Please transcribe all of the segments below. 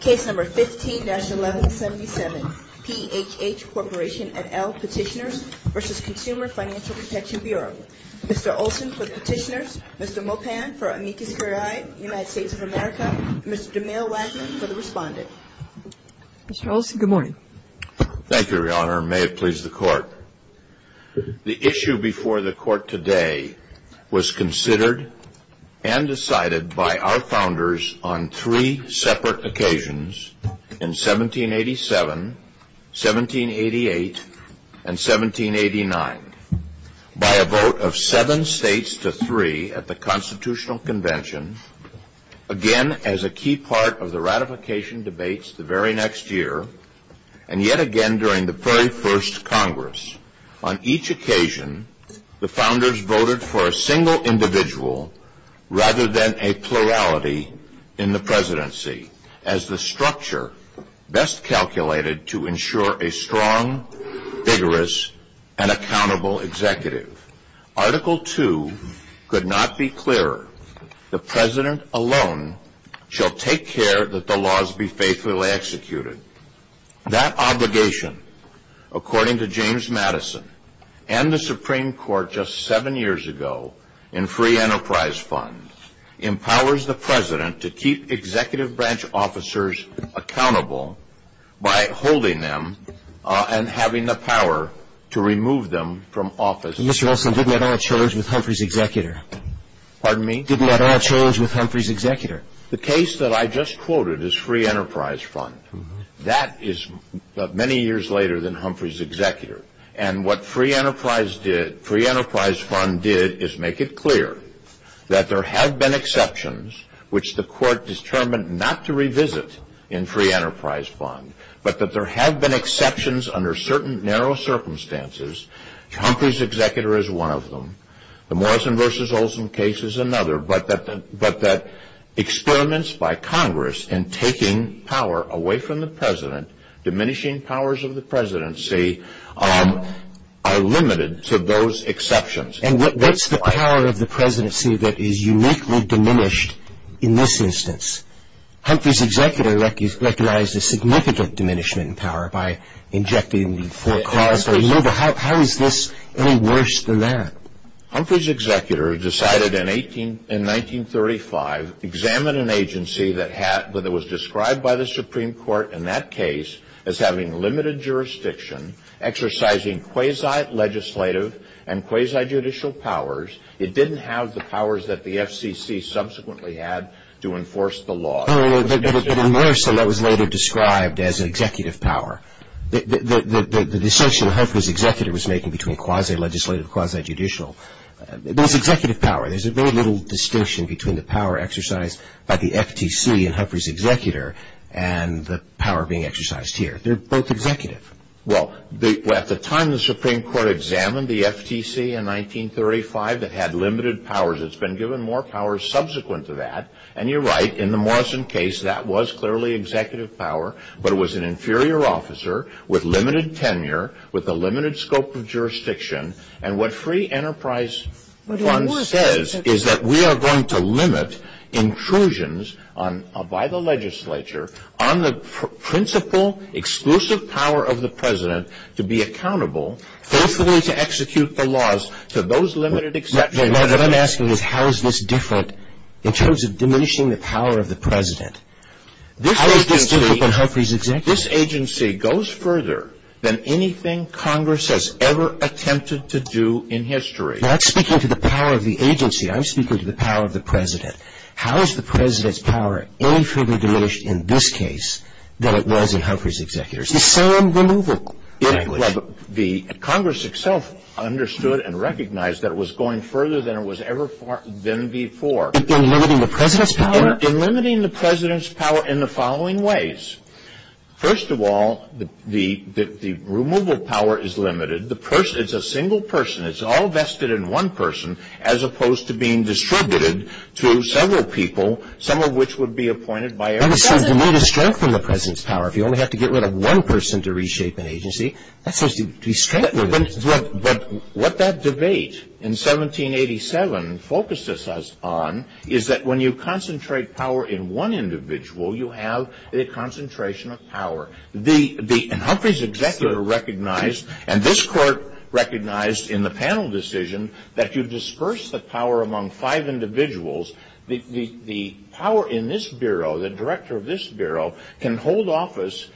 15-1177 PHH Corporation v. CFPB Mr. Olson for Petitioners, Mr. Mopan for Amicus Curiae United States of America, Mr. DeMille-Waddington for the Respondent Mr. Olson, good morning. Thank you, Your Honor, and may it please the Court. The issue before the Court today was considered and decided by our Founders on three separate occasions in 1787, 1788, and 1789 by a vote of seven states to three at the Constitutional Convention, again as a key part of the ratification debates the very next year, and yet again during the very first Congress. On each occasion, the Founders voted for a single individual rather than a plurality in the Presidency, as the structure best calculated to ensure a strong, vigorous, and accountable executive. Article II could not be clearer. The President alone shall take care that the laws be faithfully executed. That obligation, according to James Madison and the Supreme Court just seven years ago in free enterprise funds, empowers the President to keep executive branch officers accountable by holding them and having the power to remove them from office. Mr. Olson, didn't that all chose with Humphrey's executor? Pardon me? Didn't that all chose with Humphrey's executor? The case that I just quoted is free enterprise fund. That is many years later than Humphrey's executor. And what free enterprise fund did is make it clear that there have been exceptions, which the Court determined not to revisit in free enterprise fund, but that there have been exceptions under certain narrow circumstances. Humphrey's executor is one of them. The Morrison v. Olson case is another, but that experiments by Congress in taking power away from the President, diminishing powers of the Presidency, are limited to those exceptions. And what's the power of the Presidency that is uniquely diminished in this instance? Humphrey's executor recognized a significant diminishment in power by injecting the full class of labor. How is this any worse than that? Humphrey's executor decided in 1935 to examine an agency that was described by the Supreme Court in that case as having limited jurisdiction, exercising quasi-legislative and quasi-judicial powers. It didn't have the powers that the FCC subsequently had to enforce the law. But in Morrison, that was later described as executive power. The distinction that Humphrey's executor was making between quasi-legislative and quasi-judicial, there was executive power. There's very little distinction between the power exercised by the FTC in Humphrey's executor and the power being exercised here. They're both executive. Well, at the time the Supreme Court examined the FTC in 1935, it had limited powers. It's been given more powers subsequent to that. And you're right, in the Morrison case, that was clearly executive power. But it was an inferior officer with limited tenure, with a limited scope of jurisdiction. And what Free Enterprise Fund says is that we are going to limit intrusions by the legislature on the principal, exclusive power of the president to be accountable, hopefully to execute the laws. So those limited exceptions... What I'm asking is how is this different in terms of diminishing the power of the president? How is this different in Humphrey's executor? This agency goes further than anything Congress has ever attempted to do in history. But I'm speaking to the power of the agency. I'm speaking to the power of the president. How is the president's power any further diminished in this case than it was in Humphrey's executor? The same removal. The Congress itself understood and recognized that it was going further than it was ever been before. In limiting the president's power? In limiting the president's power in the following ways. First of all, the removal of power is limited. It's a single person. It's all vested in one person, as opposed to being distributed to several people, some of which would be appointed by... You might have strengthened the president's power. If you only have to get rid of one person to reshape an agency, that's supposed to be strengthened. What that debate in 1787 focuses us on is that when you concentrate power in one individual, you have a concentration of power. Humphrey's executor recognized, and this court recognized in the panel decision, that you disperse the power among five individuals. The power in this bureau, the director of this bureau, can hold office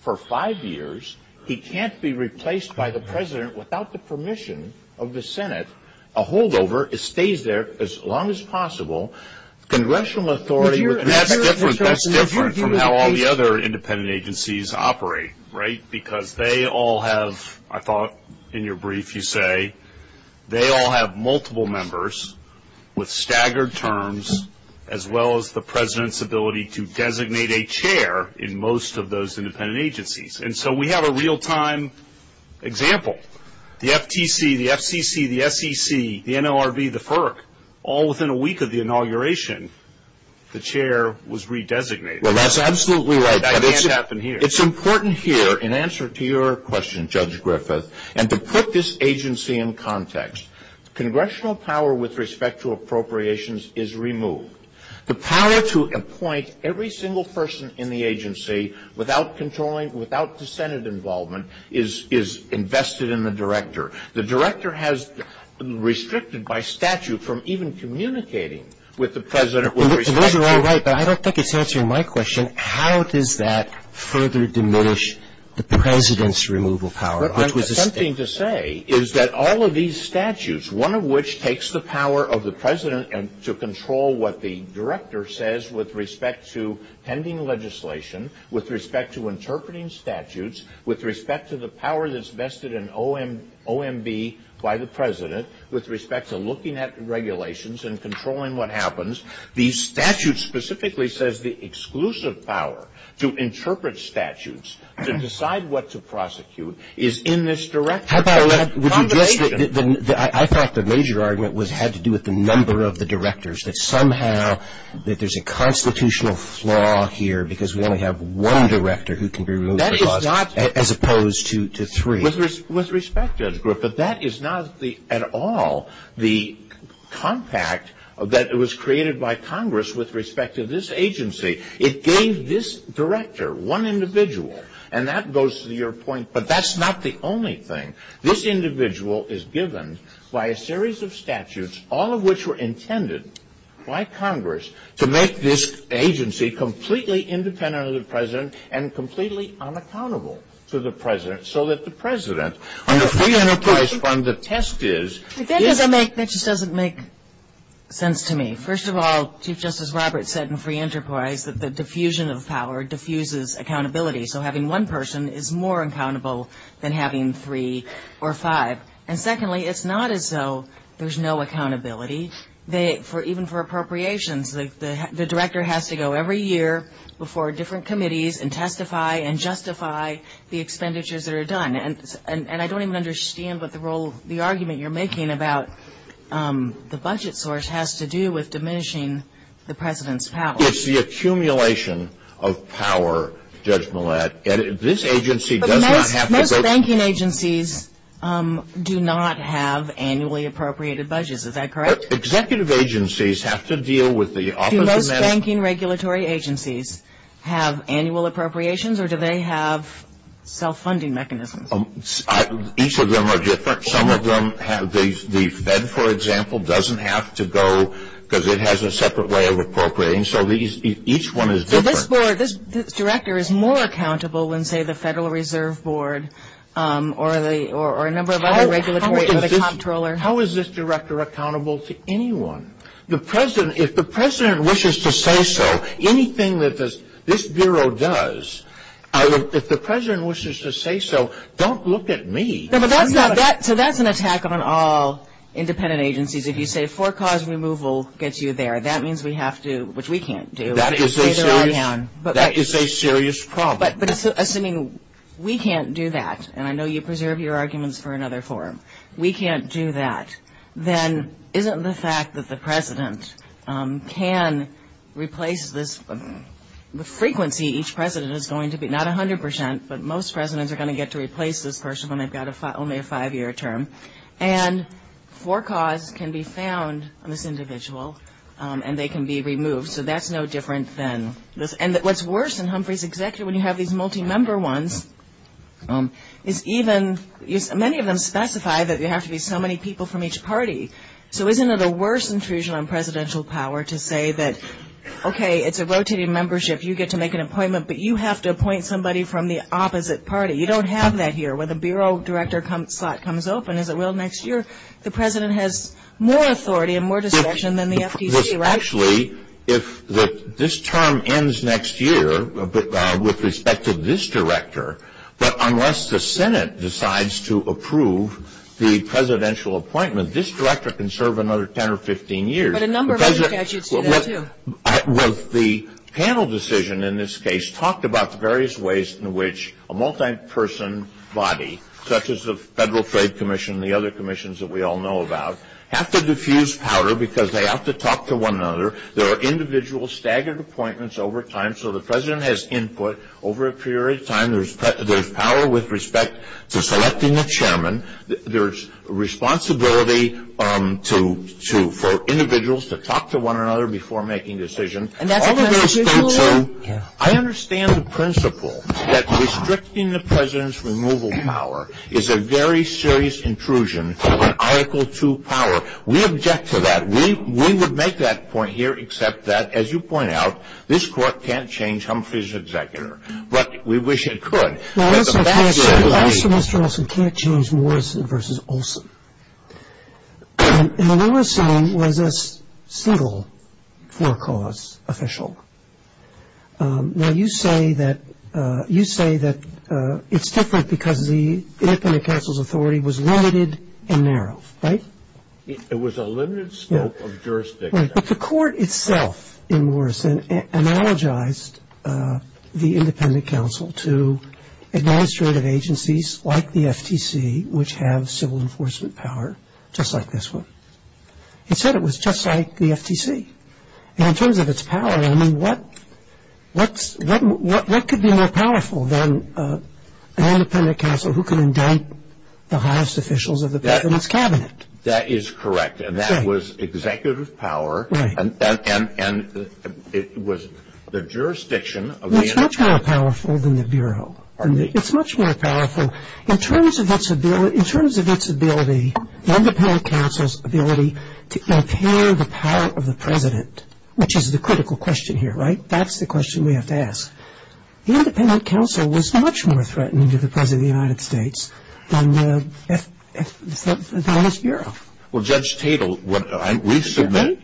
for five years. He can't be replaced by the president without the permission of the Senate. A holdover stays there as long as possible. Congressional authority... That's different from how all the other independent agencies operate, right? Because they all have, I thought in your brief you say, they all have multiple members with staggered terms, as well as the president's ability to designate a chair in most of those independent agencies. And so we have a real-time example. The FTC, the FCC, the SEC, the NLRB, the FERC, all within a week of the inauguration, the chair was redesignated. Well, that's absolutely right. That can't happen here. It's important here, in answer to your question, Judge Griffith, and to put this agency in context. Congressional power with respect to appropriations is removed. The power to appoint every single person in the agency without controlling, without the Senate involvement is invested in the director. The director has restricted by statute from even communicating with the president. Well, you're right, but I don't think it's answering my question. How does that further diminish the president's removal power? Something to say is that all of these statutes, one of which takes the power of the president to control what the director says with respect to pending legislation, with respect to interpreting statutes, with respect to the power that's vested in OMB by the president, with respect to looking at regulations and controlling what happens, the statute specifically says the exclusive power to interpret statutes, to decide what to prosecute, is in this director. I thought the major argument had to do with the number of the directors, that somehow there's a constitutional flaw here because we only have one director who can be removed as opposed to three. With respect, Judge Griffith, that is not at all the compact that was created by Congress with respect to this agency. It gave this director one individual, and that goes to your point, but that's not the only thing. This individual is given by a series of statutes, all of which were intended by Congress, to make this agency completely independent of the president and completely unaccountable to the president, so that the president, under free enterprise fund, the test is. That just doesn't make sense to me. First of all, Chief Justice Roberts said in free enterprise that the diffusion of power diffuses accountability, so having one person is more accountable than having three or five. And secondly, it's not as though there's no accountability. Even for appropriations, the director has to go every year before different committees and testify and justify the expenditures that are done, and I don't even understand what the argument you're making about the budget source has to do with diminishing the president's power. It's the accumulation of power, Judge Millett, and this agency does not have to go. Most banking agencies do not have annually appropriated budgets. Is that correct? Executive agencies have to deal with the opportunity. Do most banking regulatory agencies have annual appropriations, or do they have self-funding mechanisms? Each of them are different. The Fed, for example, doesn't have to go because it has a separate way of appropriating, so each one is different. This director is more accountable than, say, the Federal Reserve Board or a number of other regulatory controllers. How is this director accountable to anyone? If the president wishes to say so, anything that this bureau does, if the president wishes to say so, don't look at me. So that's an attack on all independent agencies. If you say for-cause removal gets you there, that means we have to, which we can't do. That is a serious problem. But assuming we can't do that, and I know you preserve your arguments for another forum, we can't do that, then isn't the fact that the president can replace this frequency, each president is going to be, not 100 percent, but most presidents are going to get to replace this person when they've got only a five-year term. And for-cause can be found on this individual, and they can be removed. So that's no different than this. And what's worse in Humphreys, exactly when you have these multi-member ones, is many of them specify that there have to be so many people from each party. So isn't it a worse intrusion on presidential power to say that, okay, it's a rotating membership, you get to make an appointment, but you have to appoint somebody from the opposite party. You don't have that here. When the bureau director slot comes open, as it will next year, the president has more authority and more discretion than the FTC, right? Actually, if this term ends next year, with respect to this director, but unless the Senate decides to approve the presidential appointment, this director can serve another 10 or 15 years. But a number of other judges do that, too. The panel decision in this case talked about the various ways in which a multi-person body, such as the Federal Trade Commission and the other commissions that we all know about, have to diffuse power because they have to talk to one another. There are individual staggered appointments over time, so the president has input over a period of time. There's responsibility for individuals to talk to one another before making decisions. I understand the principle that restricting the president's removal power is a very serious intrusion on Article II power. We object to that. We would make that point here, except that, as you point out, this court can't change Humphrey's executor. But we wish it could. Also, Mr. Olson, can't change Morrison v. Olson. In Morrison was a single forecast official. Now, you say that it's different because the independent counsel's authority was limited and narrow, right? But the court itself in Morrison analogized the independent counsel to administrative agencies like the FTC, which have civil enforcement power, just like this one. It said it was just like the FTC. And in terms of its power, I mean, what could be more powerful than an independent counsel who can indict the highest officials of the president's cabinet? That is correct. And that was executive power. Right. And it was the jurisdiction of the independent counsel. It's much more powerful than the Bureau. It's much more powerful. In terms of its ability, the independent counsel's ability to obtain the power of the president, which is the critical question here, right? That's the question we have to ask. The independent counsel was much more threatening to the president of the United States than the U.S. Bureau. Well, Judge Tatel, we submit,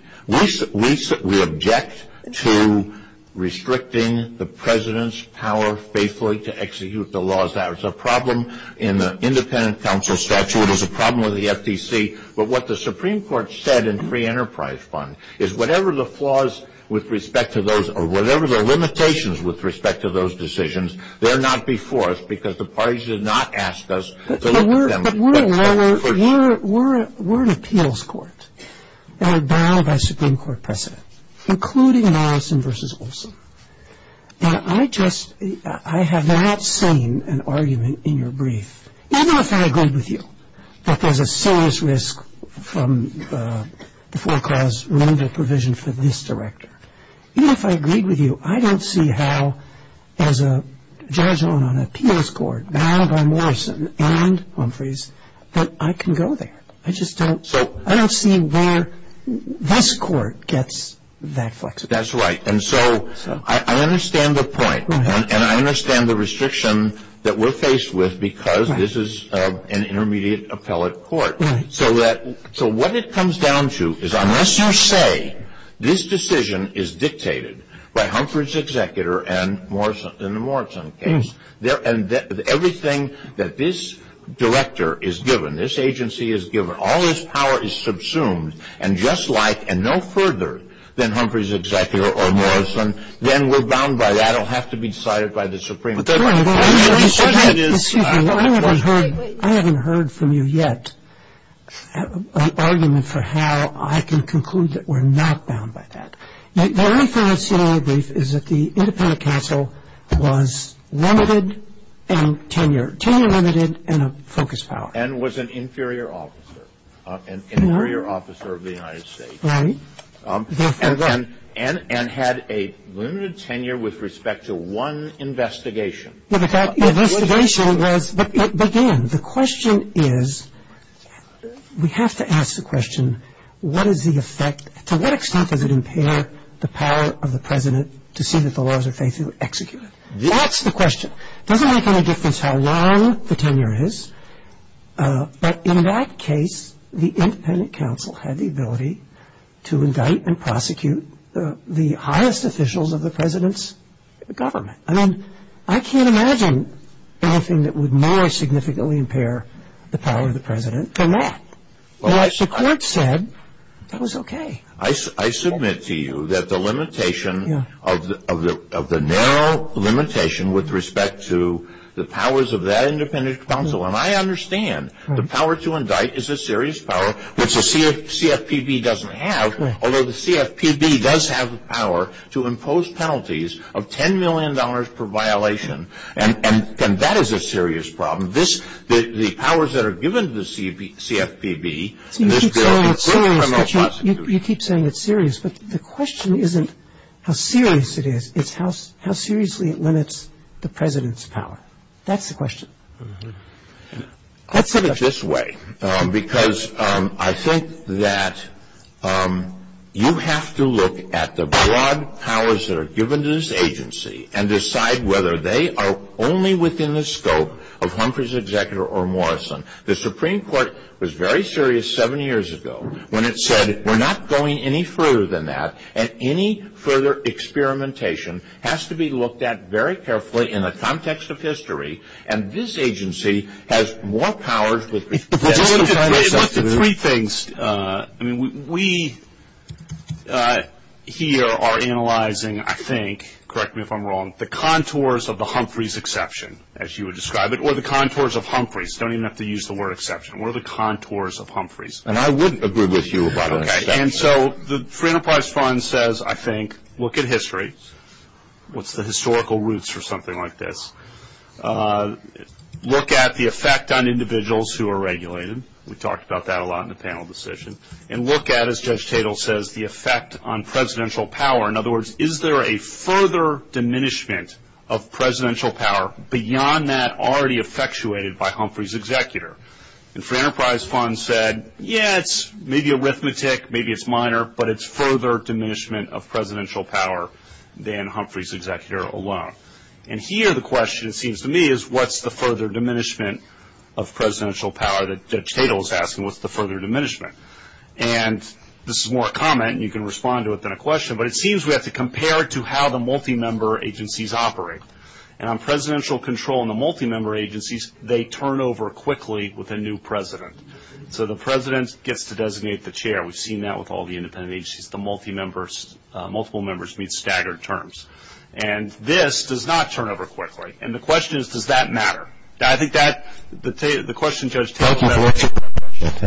we object to restricting the president's power faithfully to execute the laws. That was a problem in the independent counsel statute. It was a problem with the FTC. But what the Supreme Court said in Free Enterprise Fund is whatever the flaws with respect to those or whatever the limitations with respect to those decisions, they're not before us because the parties did not ask us to look at them. But we're an appeals court. We're bound by Supreme Court precedent, including Morrison v. Wilson. And I just, I have not seen an argument in your brief, even if I agree with you, that there's a serious risk from the foreclosed removal provision for this director. Even if I agreed with you, I don't see how, as a judge on an appeals court bound by Morrison and Winfrey's, that I can go there. I just don't. I don't see where this court gets that flexibility. That's right. And so I understand the point. And I understand the restriction that we're faced with because this is an intermediate appellate court. So what it comes down to is unless you say this decision is dictated by Humphrey's executor and Morrison, in the Morrison case, and everything that this director is given, this agency is given, all this power is subsumed and just like and no further than Humphrey's executor or Morrison, then we're bound by that. It'll have to be decided by the Supreme Court. Excuse me. I haven't heard from you yet an argument for how I can conclude that we're not bound by that. The only thing I say in my brief is that the independent counsel was limited in tenure. Tenure limited and a focused power. And was an inferior officer. An inferior officer of the United States. Right. And had a limited tenure with respect to one investigation. Investigation was, but Dan, the question is, we have to ask the question, what is the effect, to what extent does it impair the power of the president to see that the laws are facing an executor? That's the question. It doesn't make any difference how long the tenure is. But in that case, the independent counsel had the ability to indict and prosecute the highest officials of the president's government. I mean, I can't imagine anything that would more significantly impair the power of the president than that. Like the court said, that was okay. I submit to you that the limitation of the narrow limitation with respect to the powers of that independent counsel, and I understand the power to indict is a serious power, which the CFPB doesn't have, although the CFPB does have the power to impose penalties of $10 million per violation, and that is a serious problem. The powers that are given to the CFPB, this bill is criminal justice. You keep saying it's serious, but the question isn't how serious it is, it's how seriously it limits the president's power. That's the question. I'll put it this way, because I think that you have to look at the broad powers that are given to this agency and decide whether they are only within the scope of Humphrey's executor or Morrison. The Supreme Court was very serious 70 years ago when it said, we're not going any further than that, and any further experimentation has to be looked at very carefully in the context of history, and this agency has more powers with respect to Humphrey's. Three things. We here are analyzing, I think, correct me if I'm wrong, the contours of the Humphrey's exception, as you would describe it, or the contours of Humphrey's. You don't even have to use the word exception, or the contours of Humphrey's. And I wouldn't agree with you about an exception. And so the Free Enterprise Fund says, I think, look at history, what's the historical roots for something like this. Look at the effect on individuals who are regulated. We talked about that a lot in the panel decision. And look at, as Judge Tatel says, the effect on presidential power. In other words, is there a further diminishment of presidential power beyond that already effectuated by Humphrey's executor? And Free Enterprise Fund said, yeah, it's maybe arithmetic, maybe it's minor, but it's further diminishment of presidential power than Humphrey's executor alone. And here the question, it seems to me, is what's the further diminishment of presidential power that Judge Tatel is asking? What's the further diminishment? And this is more a comment, and you can respond to it than a question, but it seems we have to compare it to how the multi-member agencies operate. And on presidential control in the multi-member agencies, they turn over quickly with a new president. So the president gets to designate the chair. We've seen that with all the independent agencies. The multi-members, multiple members meet staggered terms. And this does not turn over quickly. And the question is, does that matter? I think that the question Judge Tatel is asking. I'm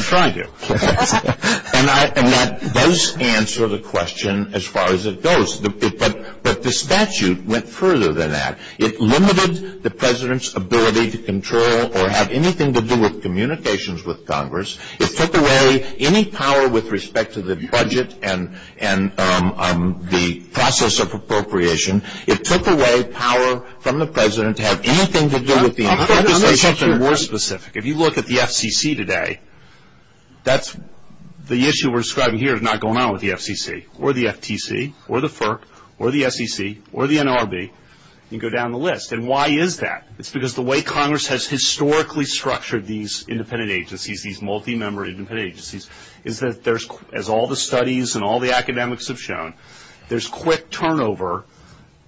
trying to. And that does answer the question as far as it goes. But the statute went further than that. It limited the president's ability to control or have anything to do with communications with Congress. It took away any power with respect to the budget and the process of appropriation. It took away power from the president to have anything to do with the appropriations. I'm going to get to more specific. If you look at the FCC today, that's the issue we're describing here is not going on with the FCC or the FTC or the FERC or the SEC or the NRB, you go down the list. And why is that? It's because the way Congress has historically structured these independent agencies, these multi-member independent agencies, is that there's, as all the studies and all the academics have shown, there's quick turnover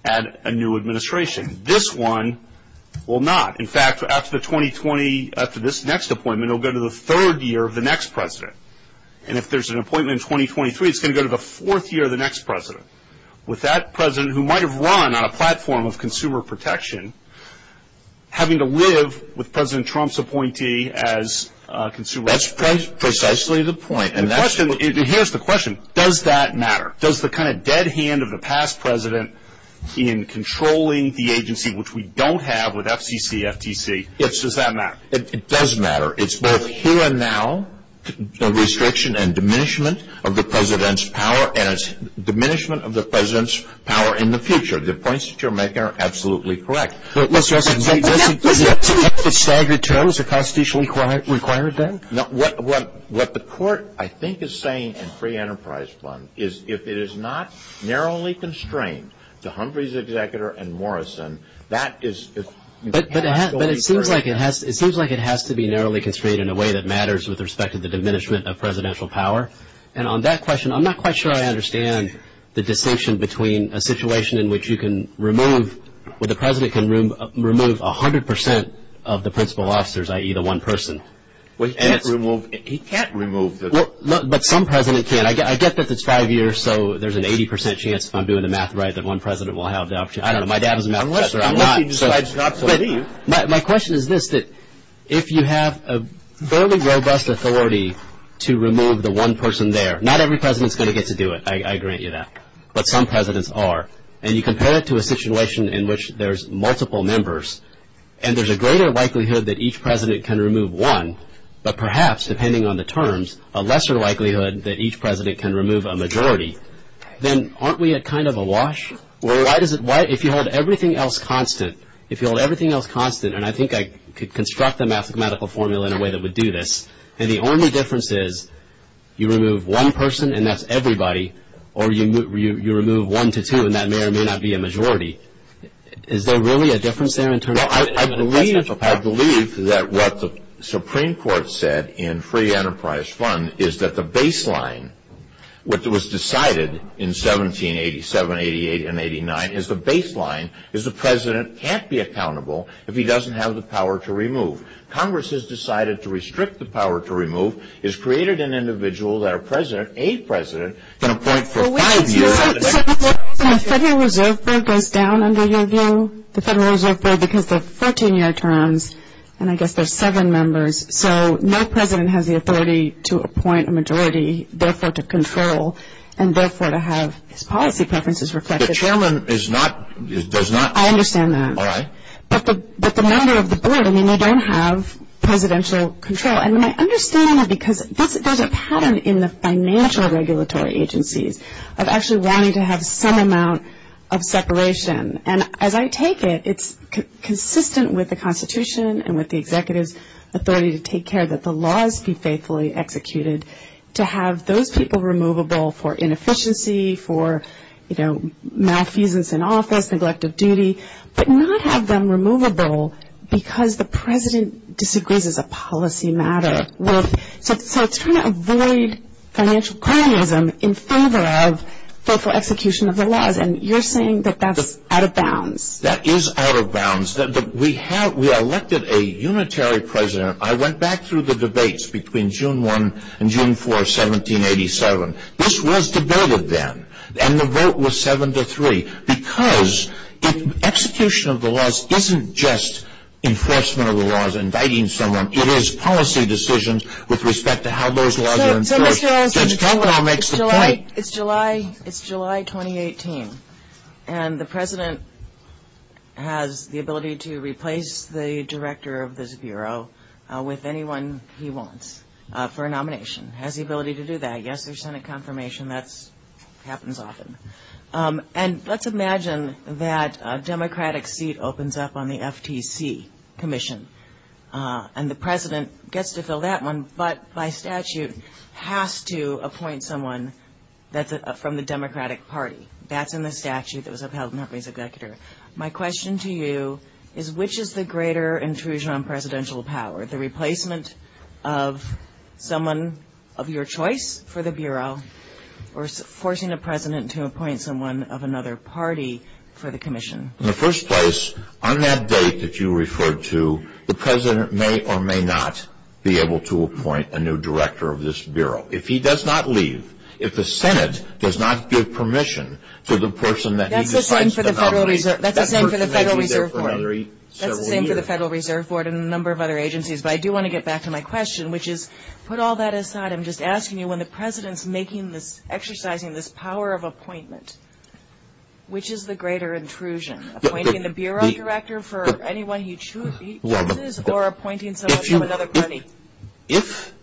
at a new administration. This one will not. In fact, after the 2020, after this next appointment, it will go to the third year of the next president. And if there's an appointment in 2023, it's going to go to the fourth year of the next president. With that president, who might have run on a platform of consumer protection, having to live with President Trump's appointee as consumer protection. That's precisely the point. Here's the question. Does that matter? Does the kind of dead hand of the past president in controlling the agency, which we don't have with FCC, FTC, does that matter? It does matter. It's both here and now, the restriction and diminishment of the president's power and its diminishment of the president's power in the future. The points that you're making are absolutely correct. But, Mr. Olson, do you think that staggering tariffs are constitutionally required then? What the court, I think, is saying in free enterprise funds is if it is not narrowly constrained to Humphrey's executor and Morrison, that is But it seems like it has to be narrowly constrained in a way that matters with respect to the diminishment of presidential power. And on that question, I'm not quite sure I understand the distinction between a situation in which you can remove, where the president can remove 100% of the principal officers, i.e. the one person. He can't remove the But some presidents can. I get that it's five years, so there's an 80% chance if I'm doing the math right that one president will have the opportunity. I don't know. My dad is a math tester. I'm not. My question is this, that if you have a fairly robust authority to remove the one person there, not every president is going to get to do it. I agree with you on that. But some presidents are. And you compare it to a situation in which there's multiple members, and there's a greater likelihood that each president can remove one, but perhaps, depending on the terms, a lesser likelihood that each president can remove a majority. Then aren't we at kind of a wash? Well, if you hold everything else constant, if you hold everything else constant, and I think I could construct a mathematical formula in a way that would do this, then the only difference is you remove one person and that's everybody, or you remove one to two and that may or may not be a majority. Is there really a difference there in terms of I believe that what the Supreme Court said in Free Enterprise Fund is that the baseline, what was decided in 1787, 88, and 89, is the baseline is the president can't be accountable if he doesn't have the power to remove. Congress has decided to restrict the power to remove, has created an individual that a president can appoint for five years. The Federal Reserve Board goes down under your view, the Federal Reserve Board, because of 14-year terms, and I guess there's seven members. So no president has the authority to appoint a majority, therefore to control, and therefore to have his policy preferences reflected. The chairman does not. I understand that. All right. But the member of the board, I mean, they don't have presidential control. And my understanding is because there's a pattern in the financial regulatory agencies of actually wanting to have some amount of separation. And as I take it, it's consistent with the Constitution and with the executive's authority to take care that the laws be faithfully executed, to have those people removable for inefficiency, for, you know, malfeasance in office, neglect of duty, but not have them removable because the president disagrees as a policy matter. So it's trying to avoid financial cronyism in favor of faithful execution of the laws. And you're saying that that's out of bounds. That is out of bounds. We elected a unitary president. I went back through the debates between June 1 and June 4, 1787. This was debated then, and the vote was seven to three, because execution of the laws isn't just enforcement of the laws, inviting someone. It is policy decisions with respect to how those laws are enforced. It's July 2018, and the president has the ability to replace the director of this bureau with anyone he wants for a nomination, has the ability to do that. Yes, there's Senate confirmation. That happens often. And let's imagine that a Democratic seat opens up on the FTC commission, and the president gets to fill that one, but by statute has to appoint someone from the Democratic Party. That's in the statute that was upheld in that case. My question to you is which is the greater intrusion on presidential power, the replacement of someone of your choice for the bureau or forcing the president to appoint someone of another party for the commission? In the first place, on that date that you referred to, the president may or may not be able to appoint a new director of this bureau. If he does not leave, if the Senate does not give permission to the person that he decides to nominate, that person may be there for several years. That's the same for the Federal Reserve Board and a number of other agencies, but I do want to get back to my question, which is put all that aside. I'm just asking you, when the president's exercising this power of appointment, which is the greater intrusion, appointing the bureau director for anyone he chooses or appointing someone from another party? If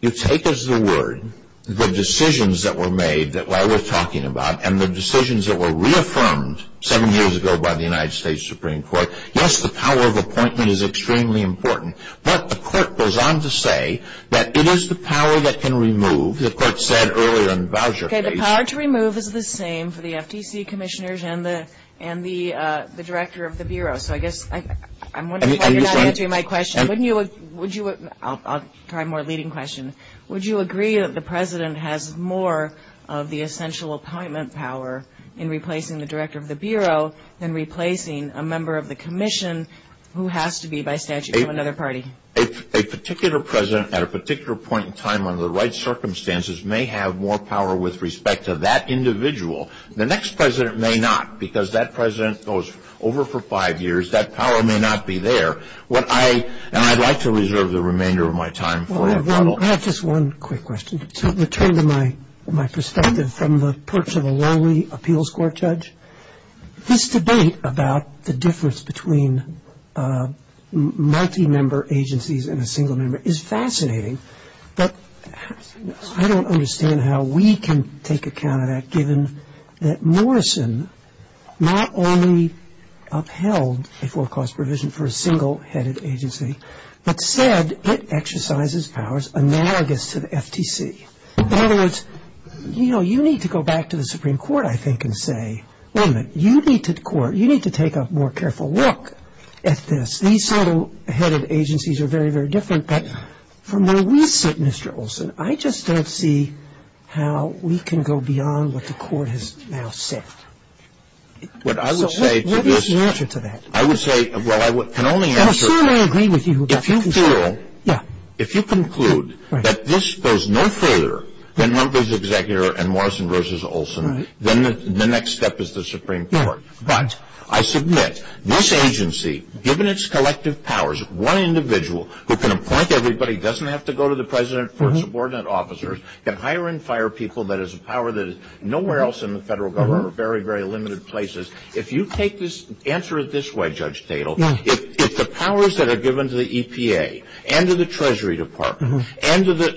you take as the word the decisions that were made that I was talking about and the decisions that were reaffirmed seven years ago by the United States Supreme Court, yes, the power of appointment is extremely important, but the court goes on to say that it is the power that can remove, Okay, the power to remove is the same for the FTC commissioners and the director of the bureau, so I guess I'm wondering why you're not answering my question. I'll try a more leading question. Would you agree that the president has more of the essential appointment power in replacing the director of the bureau than replacing a member of the commission who has to be by statute from another party? A particular president at a particular point in time under the right circumstances may have more power with respect to that individual. The next president may not, because that president goes over for five years. That power may not be there. And I'd like to reserve the remainder of my time for a follow-up. I have just one quick question. To return to my perspective from the perch of a lonely appeals court judge, this debate about the difference between multi-member agencies and a single member is fascinating, but I don't understand how we can take account of that, given that Morrison not only upheld a full cost provision for a single-headed agency, but said it exercises powers analogous to the FTC. In other words, you know, you need to go back to the Supreme Court, I think, and say, wait a minute, you need to take a more careful look at this. These single-headed agencies are very, very different, but from where we sit, Mr. Olson, I just don't see how we can go beyond what the court has now set. What is the answer to that? I would say, well, I can only answer that. I'm sure I agree with you. If you feel, if you conclude that this goes no further than members of the Executive and Morrison versus Olson, then the next step is the Supreme Court. But I submit, this agency, given its collective powers, one individual who can appoint everybody, doesn't have to go to the President or subordinate officers, can hire and fire people, that is a power that is nowhere else in the federal government or very, very limited places. If you take this, answer it this way, Judge Tatel, if the powers that are given to the EPA and to the Treasury Department and to the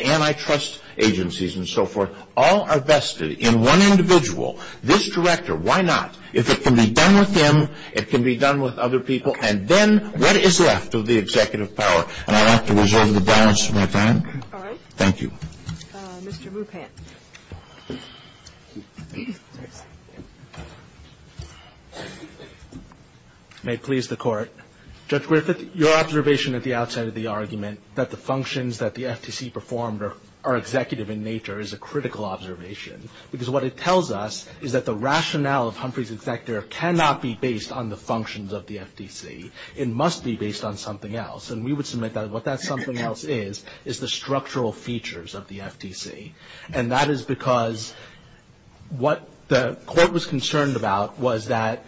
antitrust agencies and so forth, all are vested in one individual, this director, why not? If it can be done with him, it can be done with other people, and then what is left of the Executive power? And I'd like to reserve the balance of my time. All right. Thank you. Mr. Mupant. May it please the Court. Judge Griffith, your observation at the outset of the argument that the functions that the FTC performed are executive in nature is a critical observation because what it tells us is that the rationale of Humphrey's Executive cannot be based on the functions of the FTC. It must be based on something else. And we would submit that what that something else is is the structural features of the FTC. And that is because what the Court was concerned about was that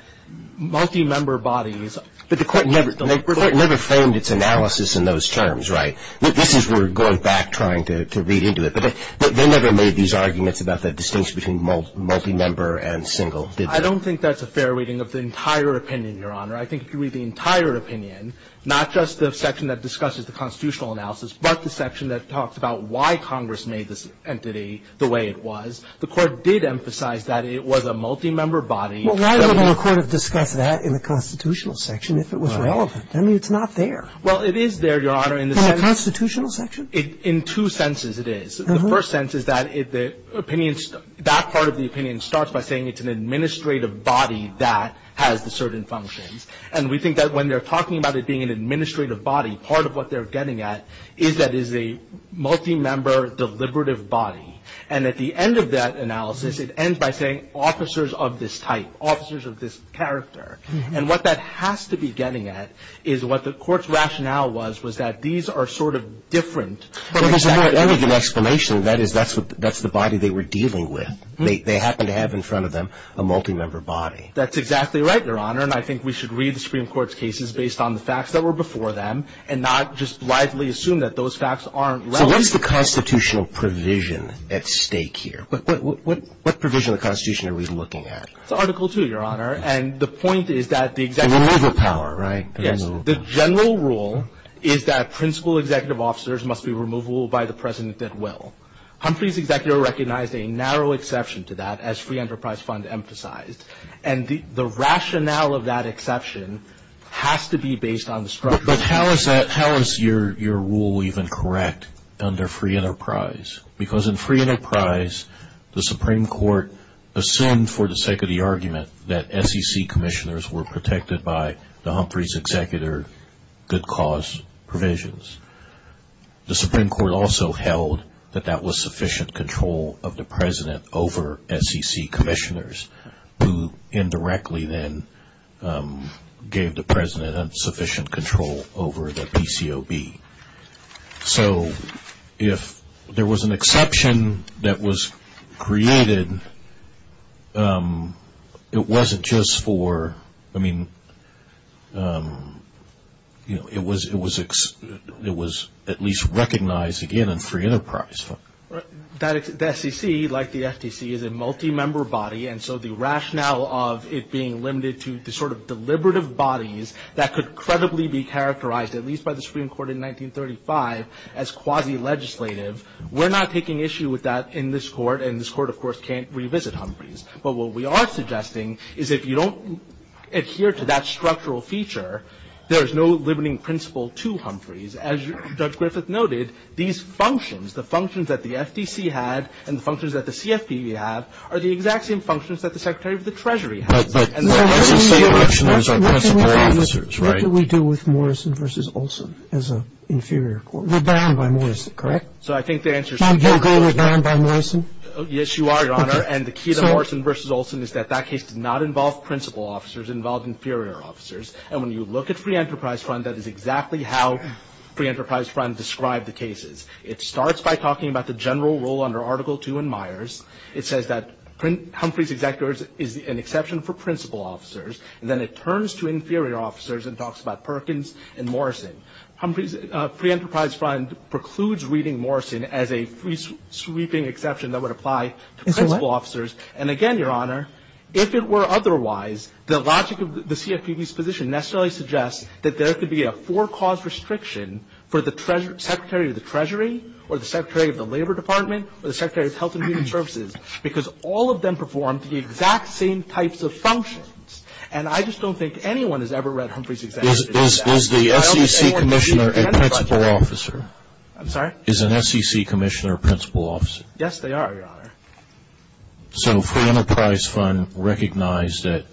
multi-member bodies. But the Court never framed its analysis in those terms, right? This is where we're going back trying to read into it. But they never made these arguments about the distinction between multi-member and single. I don't think that's a fair reading of the entire opinion, Your Honor. I think if you read the entire opinion, not just the section that discusses the constitutional analysis, but the section that talks about why Congress made this entity the way it was, the Court did emphasize that it was a multi-member body. Well, why would the Court have discussed that in a constitutional section if it was relevant? I mean, it's not there. Well, it is there, Your Honor. In a constitutional section? In two senses it is. The first sense is that if the opinion, that part of the opinion starts by saying it's an administrative body that has a certain function. And we think that when they're talking about it being an administrative body, part of what they're getting at is that it is a multi-member deliberative body. And at the end of that analysis, it ends by saying officers of this type, officers of this character. And what that has to be getting at is what the Court's rationale was, was that these are sort of different. That is an explanation. That is, that's the body they were dealing with. They happen to have in front of them a multi-member body. That's exactly right, Your Honor. And I think we should read the Supreme Court's cases based on the facts that were before them and not just wisely assume that those facts aren't relevant. Well, what is the constitutional provision at stake here? What provision of the Constitution are we looking at? It's Article II, Your Honor. And the point is that the executive... The removal power, right? Yes. The general rule is that principal executive officers must be removable by the president at will. Humphrey's executor recognized a narrow exception to that as Free Enterprise Fund emphasized. And the rationale of that exception has to be based on the structure. But how is your rule even correct under Free Enterprise? Because in Free Enterprise, the Supreme Court assumed for the sake of the argument that SEC commissioners were protected by the Humphrey's executor good cause provisions. The Supreme Court also held that that was sufficient control of the president over SEC commissioners who indirectly then gave the president sufficient control over the PCOB. So if there was an exception that was created, it wasn't just for... It was at least recognized, again, in Free Enterprise Fund. The SEC, like the SEC, is a multi-member body. And so the rationale of it being limited to the sort of deliberative bodies that could credibly be characterized, at least by the Supreme Court in 1935, as quasi-legislative, we're not taking issue with that in this court. And this court, of course, can't revisit Humphrey's. But what we are suggesting is if you don't adhere to that structural feature, there is no limiting principle to Humphrey's. As Judge Griffith noted, these functions, the functions that the SEC had and the functions that the CFPB have are the exact same functions that the Secretary of the Treasury had. But what do we do with Morrison v. Olson as an inferior court? We're bound by Morrison, correct? So I think the answer is... So you're saying we're bound by Morrison? Yes, you are, Your Honor. And the key to Morrison v. Olson is that that case did not involve principal officers. It involved inferior officers. And when you look at Free Enterprise Fund, that is exactly how Free Enterprise Fund described the cases. It starts by talking about the general rule under Article II in Myers. It says that Humphrey's executor is an exception for principal officers. And then it turns to inferior officers and talks about Perkins and Morrison. Humphrey's Free Enterprise Fund precludes reading Morrison as a sweeping exception that would apply to principal officers. And again, Your Honor, if it were otherwise, the logic of the CFPB's position necessarily suggests that there could be a four-cause restriction for the Secretary of the Treasury or the Secretary of the Labor Department or the Secretary of Health and Human Services because all of them perform the exact same types of functions. And I just don't think anyone has ever read Humphrey's executions. Is the SEC commissioner a principal officer? I'm sorry? Is an SEC commissioner a principal officer? Yes, they are, Your Honor. So Free Enterprise Fund recognized that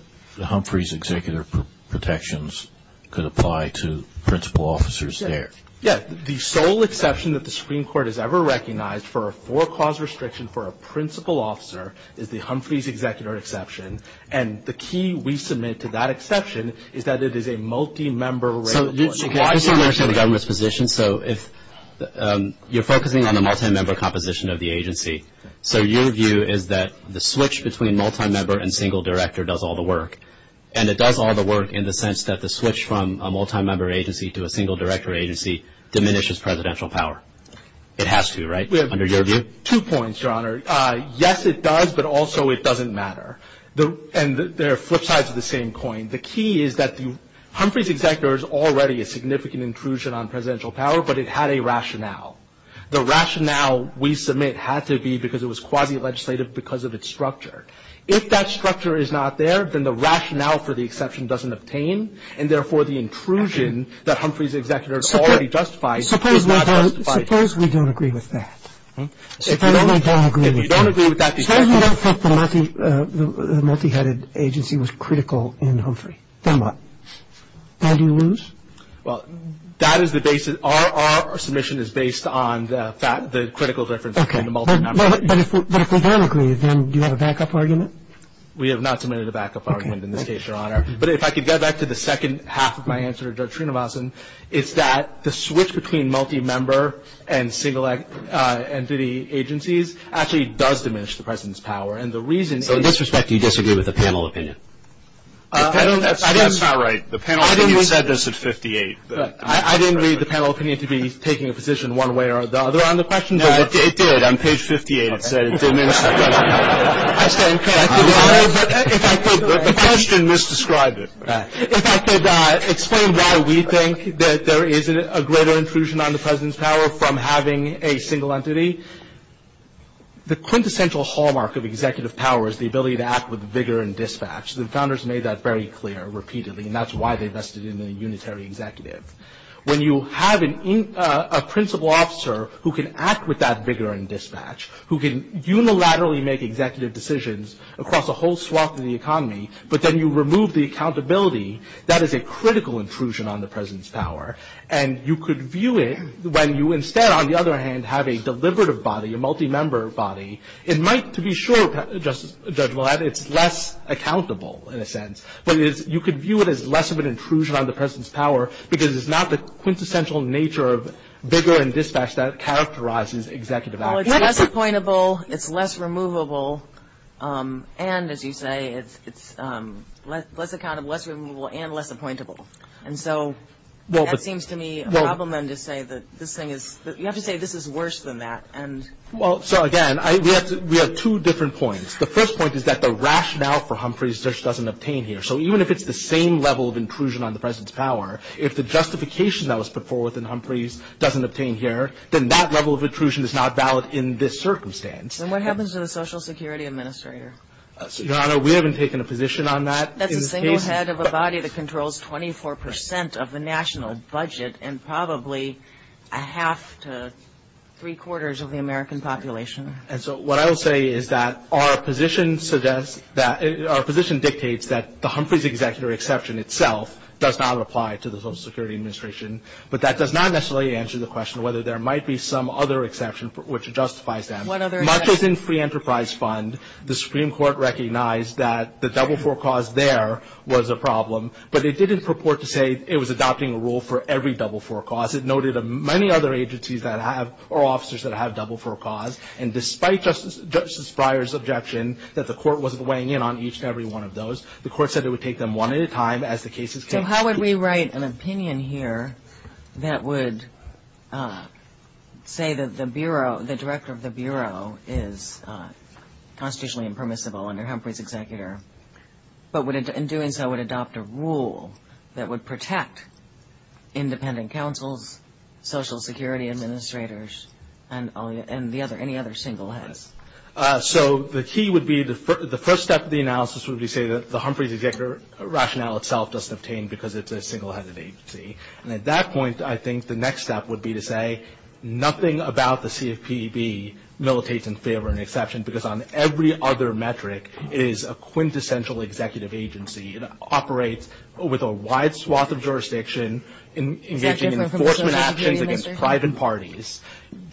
Humphrey's executor protections could apply to principal officers there? Yes. The sole exception that the Supreme Court has ever recognized for a four-cause restriction for a principal officer is the Humphrey's executor exception. And the key we submit to that exception is that it is a multi-member regulation. I just don't understand the government's position. So you're focusing on the multi-member composition of the agency. So your view is that the switch between multi-member and single director does all the work. And it does all the work in the sense that the switch from a multi-member agency to a single director agency diminishes presidential power. It has to, right, under your view? Two points, Your Honor. Yes, it does, but also it doesn't matter. And they're flip sides of the same coin. The key is that the Humphrey's executor is already a significant intrusion on presidential power, but it had a rationale. The rationale we submit had to be because it was quasi-legislative because of its structure. If that structure is not there, then the rationale for the exception doesn't obtain, and therefore the intrusion that Humphrey's executor already justifies is not justified. Suppose we don't agree with that. If you don't agree with that, the exception is not justified. Suppose you don't think that a multi-headed agency was critical in Humphrey. Then what? Then do you lose? Well, that is the basis. Our submission is based on the critical difference between the multi-member agency. But if we don't agree, then do you have a back-up argument? We have not submitted a back-up argument in this case, Your Honor. But if I could get back to the second half of my answer to Judge Trinomasin, it's that the switch between multi-member and single-entity agencies actually does diminish the president's power. In this respect, do you disagree with the panel opinion? That's not right. The panel opinion said this at 58. I didn't read the panel opinion to be taking a position one way or the other on the question. No, it did. On page 58 it said it diminished. The question misdescribed it. If I could explain why we think that there is a greater inclusion on the president's power from having a single entity. The quintessential hallmark of executive power is the ability to act with vigor and dispatch. The founders made that very clear repeatedly, and that's why they invested in a unitary executive. When you have a principal officer who can act with that vigor and dispatch, who can unilaterally make executive decisions across a whole swath of the economy, but then you remove the accountability, that is a critical intrusion on the president's power. And you could view it when you instead, on the other hand, have a deliberative body, a multi-member body. It might, to be sure, Judge Blatt, it's less accountable in a sense. But you could view it as less of an intrusion on the president's power because it's not the quintessential nature of vigor and dispatch that characterizes executive action. So it's less appointable, it's less removable, and, as you say, it's less accountable, less removable, and less appointable. And so that seems to me a problem, and to say that this thing is – you have to say this is worse than that. Well, so again, we have two different points. The first point is that the rationale for Humphreys just doesn't obtain here. So even if it's the same level of intrusion on the president's power, if the justification that was put forth in Humphreys doesn't obtain here, then that level of intrusion is not valid in this circumstance. And what happens to the Social Security Administrator? Your Honor, we haven't taken a position on that. That's the single head of a body that controls 24% of the national budget and probably a half to three-quarters of the American population. And so what I would say is that our position dictates that the Humphreys executive exception itself does not apply to the Social Security Administration. But that does not necessarily answer the question whether there might be some other exception which justifies that. What other exception? Much as in Free Enterprise Fund, the Supreme Court recognized that the double-four cause there was a problem, but it didn't purport to say it was adopting a rule for every double-four cause. It noted that many other agencies that have – or officers that have double-four cause, and despite Justice Breyer's objection that the court wasn't weighing in on each and every one of those, the court said it would take them one at a time as the cases came through. So how would we write an opinion here that would say that the Bureau, the director of the Bureau is constitutionally impermissible under Humphreys' executor, but in doing so would adopt a rule that would protect independent counsel, Social Security Administrators, and any other single head? So the key would be the first step of the analysis would be to say that the Humphreys' executive rationale itself doesn't obtain because it's a single-headed agency. And at that point, I think the next step would be to say nothing about the CFPB militates in favor of an exception because on every other metric it is a quintessential executive agency. It operates with a wide swath of jurisdiction, engaging in enforcement actions against private parties.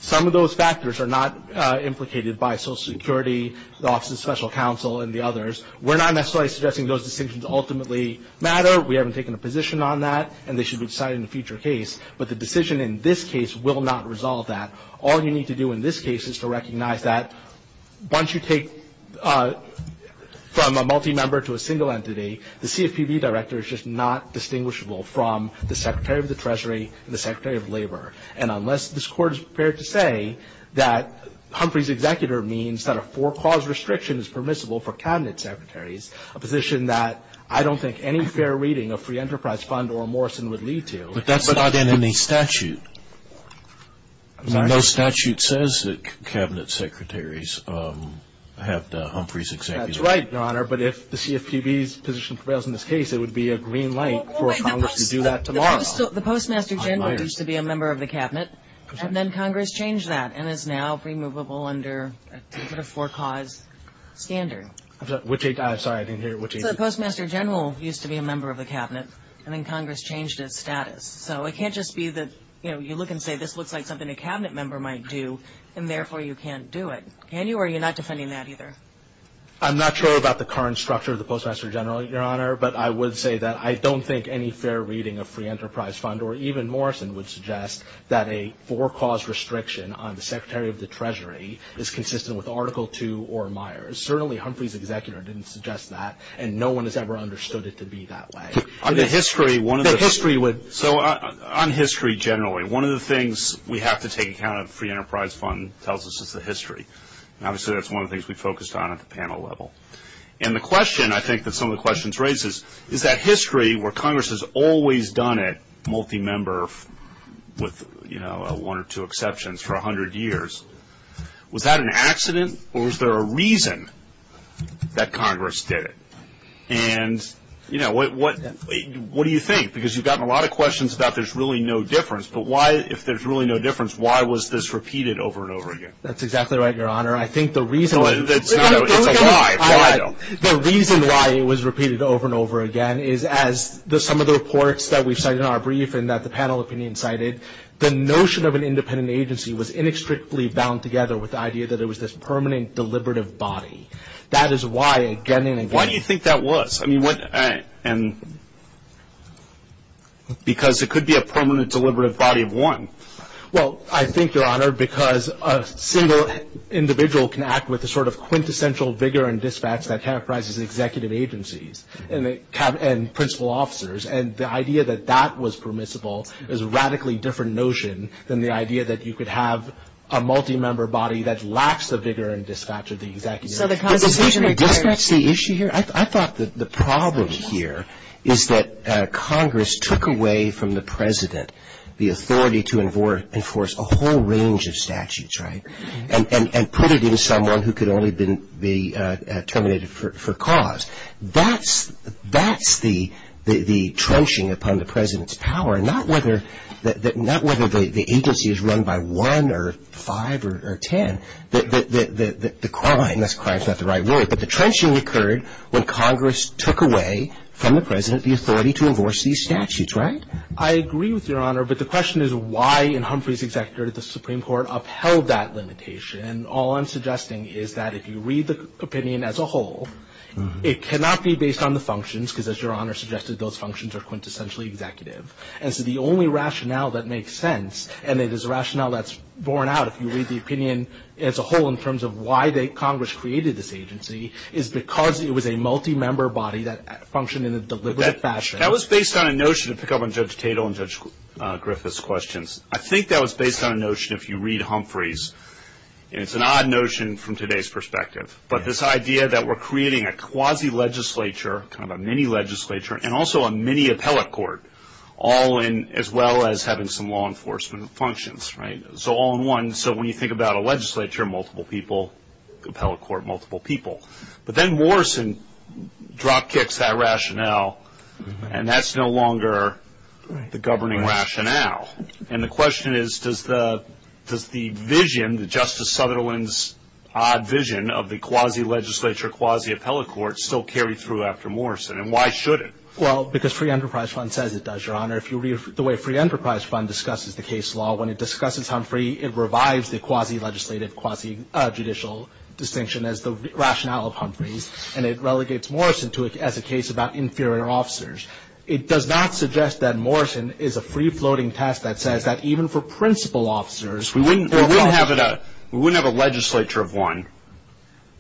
Some of those factors are not implicated by Social Security, the Office of Special Counsel, and the others. We're not necessarily suggesting those decisions ultimately matter. We haven't taken a position on that, and they should be decided in a future case. But the decision in this case will not resolve that. All you need to do in this case is to recognize that once you take from a multi-member to a single entity, the CFPB director is just not distinguishable from the Secretary of the Treasury and the Secretary of Labor. And unless this court is prepared to say that Humphreys' executor means that a four-clause restriction is permissible for cabinet secretaries, a position that I don't think any fair reading of free enterprise fund or Morrison would lead to. But that's not in any statute. No statute says that cabinet secretaries have Humphreys' executor. That's right, Your Honor. But if the CFPB's position prevails in this case, it would be a green light for Congress to do that tomorrow. The postmaster general used to be a member of the cabinet, and then Congress changed that, and is now removable under a four-clause standard. Sorry, I didn't hear you. The postmaster general used to be a member of the cabinet, and then Congress changed its status. So it can't just be that you look and say this looks like something a cabinet member might do, and therefore you can't do it. And you're not defending that either. I'm not sure about the current structure of the postmaster general, Your Honor, but I would say that I don't think any fair reading of free enterprise fund or even Morrison would suggest that a four-clause restriction on the secretary of the treasury is consistent with Article II or Myers. Certainly Humphreys' executor didn't suggest that, and no one has ever understood it to be that way. So on history generally, one of the things we have to take account of, the free enterprise fund tells us it's the history. And obviously that's one of the things we focused on at the panel level. And the question I think that some of the questions raise is, is that history where Congress has always done it multi-member with, you know, one or two exceptions for a hundred years, was that an accident or was there a reason that Congress did it? And, you know, what do you think? Because you've gotten a lot of questions about there's really no difference, but if there's really no difference, why was this repeated over and over again? That's exactly right, Your Honor. I think the reason why it was repeated over and over again is, as some of the reports that we cited in our brief and that the panel opinion cited, the notion of an independent agency was inextricably bound together with the idea that it was this permanent deliberative body. That is why, again and again. Why do you think that was? Because it could be a permanent deliberative body of one. Well, I think, Your Honor, because a single individual can act with the sort of quintessential vigor and dispatch that characterizes an executive agency and principal officers, and the idea that that was permissible is a radically different notion than the idea that you could have a multi-member body that lacks the vigor and dispatch of the executive. Is that the issue here? I thought that the problem here is that Congress took away from the President the authority to enforce a whole range of statutes, right, and put it in someone who could only be terminated for cause. That's the trenching upon the President's power, not whether the agency is run by one or five or ten. The crime, that's not the right word, but the trenching occurred when Congress took away from the President the authority to enforce these statutes, right? I agree with you, Your Honor, but the question is why in Humphrey's executive, the Supreme Court upheld that limitation, and all I'm suggesting is that if you read the opinion as a whole, it cannot be based on the functions, because as Your Honor suggested, those functions are quintessentially executive. And so the only rationale that makes sense, and it is a rationale that's borne out if you read the opinion as a whole in terms of why Congress created this agency, is because it was a multi-member body that functioned in a deliberate fashion. That was based on a notion to pick up on Judge Tatel and Judge Griffith's questions. I think that was based on a notion if you read Humphrey's, and it's an odd notion from today's perspective, but this idea that we're creating a quasi-legislature, kind of a mini-legislature, and also a mini-appellate court, as well as having some law enforcement functions, right? So all in one, so when you think about a legislature, multiple people, appellate court, multiple people. But then Morrison dropkicks that rationale, and that's no longer the governing rationale. And the question is, does the vision, Justice Sutherland's odd vision of the quasi-legislature, quasi-appellate court, still carry through after Morrison, and why should it? Well, because Free Enterprise Fund says it does, Your Honor. If you read the way Free Enterprise Fund discusses the case law, when it discusses Humphrey, it revives the quasi-legislative, quasi-judicial distinction as the rationale of Humphrey's, and it relegates Morrison to it as a case about inferior officers. It does not suggest that Morrison is a free-floating test that says that even for principal officers We wouldn't have a legislature of one.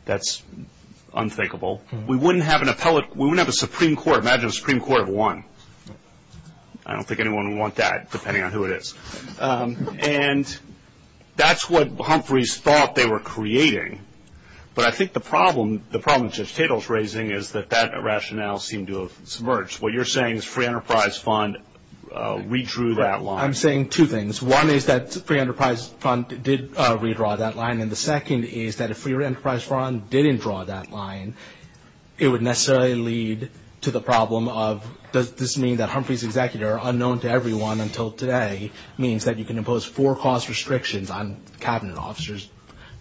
That's unthinkable. We wouldn't have an appellate, we wouldn't have a Supreme Court. Imagine a Supreme Court of one. I don't think anyone would want that, depending on who it is. And that's what Humphrey's thought they were creating. But I think the problem that Judge Tittle's raising is that that rationale seemed to have submerged. What you're saying is Free Enterprise Fund redrew that line. I'm saying two things. One is that Free Enterprise Fund did redraw that line, and the second is that if Free Enterprise Fund didn't draw that line, it would necessarily lead to the problem of does this mean that Humphrey's executor, unknown to everyone until today, means that you can impose four-clause restrictions on cabinet officers.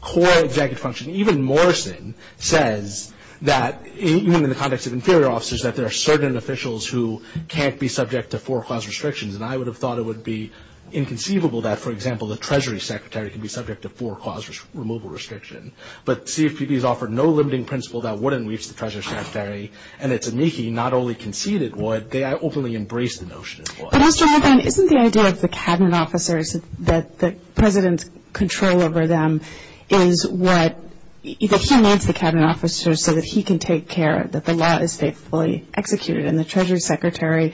Core executive function, even Morrison, says that even in the context of inferior officers, that there are certain officials who can't be subject to four-clause restrictions, and I would have thought it would be inconceivable that, for example, the Treasury Secretary can be subject to four-clause removal restriction. But CFPB has offered no limiting principle that wouldn't reach the Treasury Secretary, and that Zunighi not only conceded what, they openly embraced the notion of what. But also, isn't the idea of the cabinet officers that the president's control over them is what, he needs the cabinet officers so that he can take care that the law is faithfully executed, and the Treasury Secretary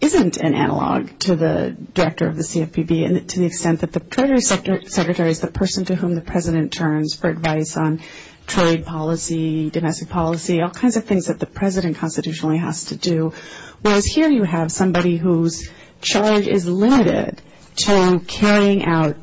isn't an analog to the director of the CFPB, and to the extent that the Treasury Secretary is the person to whom the president turns for advice on trade policy, domestic policy, all kinds of things that the president constitutionally has to do, whereas here you have somebody whose charge is limited to carrying out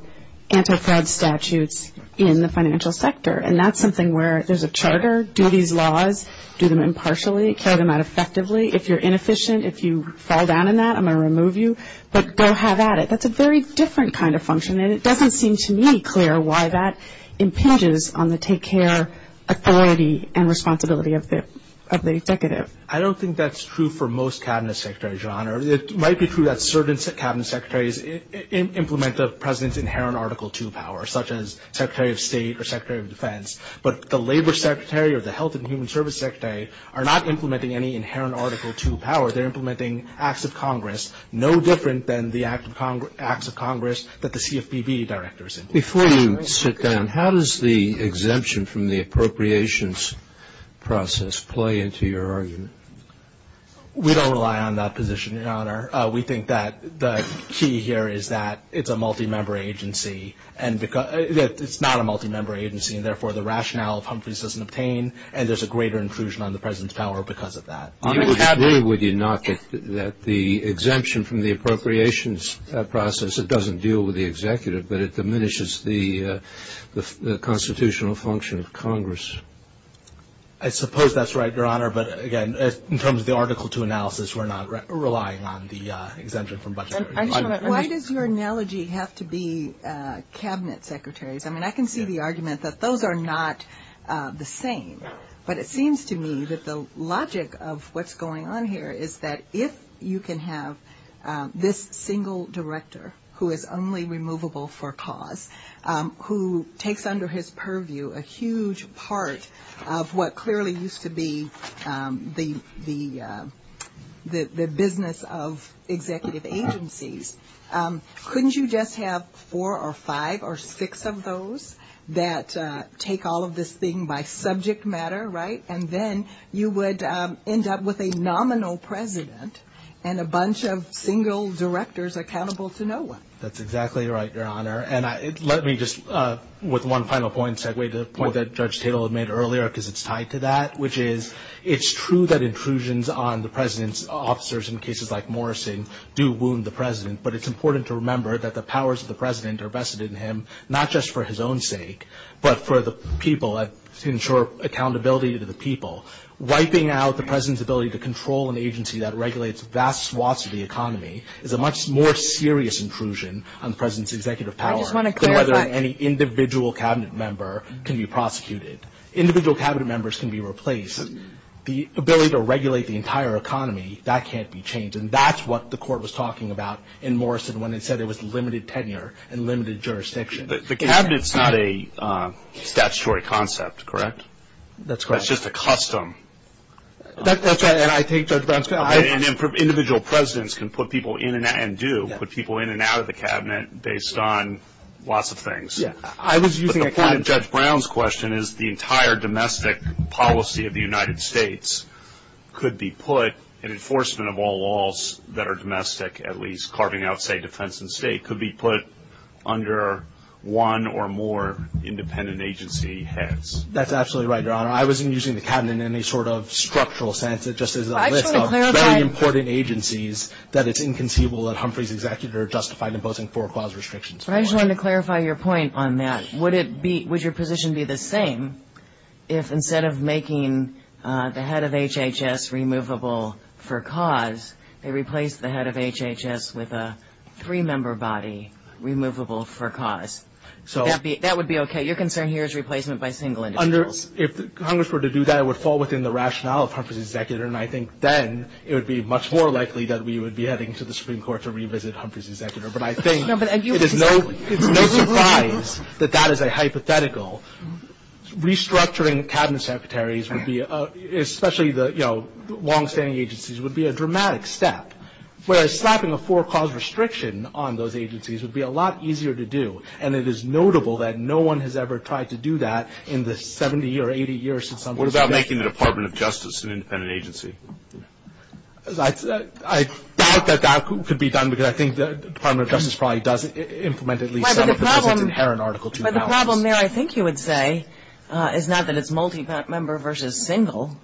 anti-fraud statutes in the financial sector. And that's something where there's a charter, do these laws, do them impartially, carry them out effectively. If you're inefficient, if you fall down in that, I'm going to remove you, but go have at it. That's a very different kind of function, and it doesn't seem to me clear why that impinges on the take-care authority and responsibility of the executive. I don't think that's true for most cabinet secretaries, John. It might be true that certain cabinet secretaries implement the president's inherent Article II power, such as Secretary of State or Secretary of Defense, but the Labor Secretary or the Health and Human Services Secretary are not implementing any inherent Article II power. They're implementing Acts of Congress, no different than the Acts of Congress that the CFPB directors implement. Before you sit down, how does the exemption from the appropriations process play into your argument? We don't rely on that position, Your Honor. We think that the key here is that it's a multi-member agency, and it's not a multi-member agency, and therefore the rationale of Humphreys doesn't obtain, and there's a greater inclusion on the president's power because of that. I would agree with you, not that the exemption from the appropriations process, it doesn't deal with the executive, but it diminishes the constitutional function of Congress. I suppose that's right, Your Honor, but again, in terms of the Article II analysis, we're not relying on the exemption from budgetary. Why does your analogy have to be cabinet secretaries? I mean, I can see the argument that those are not the same, but it seems to me that the logic of what's going on here is that if you can have this single director who is only removable for cause, who takes under his purview a huge part of what clearly used to be the business of executive agencies, couldn't you just have four or five or six of those that take all of this thing by subject matter, right, and then you would end up with a nominal president and a bunch of single directors accountable to no one? That's exactly right, Your Honor, and let me just, with one final point, segue to the point that Judge Taylor made earlier because it's tied to that, which is it's true that intrusions on the president's officers in cases like Morrison do wound the president, but it's important to remember that the powers of the president are vested in him not just for his own sake, but for the people to ensure accountability to the people. Wiping out the president's ability to control an agency that regulates vast swaths of the economy is a much more serious intrusion on the president's executive power than whether any individual cabinet member can be prosecuted. Individual cabinet members can be replaced. The ability to regulate the entire economy, that can't be changed, and that's what the court was talking about in Morrison when it said it was limited tenure and limited jurisdiction. The cabinet's not a statutory concept, correct? That's correct. It's just a custom. That's right, and I take Judge Brown's point. Individual presidents can put people in and out, and do put people in and out of the cabinet based on lots of things. But the point of Judge Brown's question is the entire domestic policy of the United States could be put, and enforcement of all laws that are domestic, at least carving out, say, defense and state, could be put under one or more independent agency heads. That's absolutely right, Your Honor. I wasn't using the cabinet in any sort of structural sense. It's just a list of very important agencies that it's inconceivable that Humphrey's executive But I just wanted to clarify your point on that. Would your position be the same if instead of making the head of HHS removable for cause, they replaced the head of HHS with a three-member body removable for cause? That would be okay. Your concern here is replacement by single individuals. If Congress were to do that, it would fall within the rationale of Humphrey's executive, and I think then it would be much more likely that we would be heading to the Supreme Court to revisit Humphrey's executive. But I think it is no surprise that that is a hypothetical. Restructuring cabinet secretaries, especially the long-standing agencies, would be a dramatic step, whereas slapping a four-cause restriction on those agencies would be a lot easier to do, and it is notable that no one has ever tried to do that in the 70 or 80 years since Humphrey's executive. What about making the Department of Justice an independent agency? I doubt that that could be done, because I think the Department of Justice probably does implement at least some of the But the problem there, I think you would say, is not that it's multi-member versus single.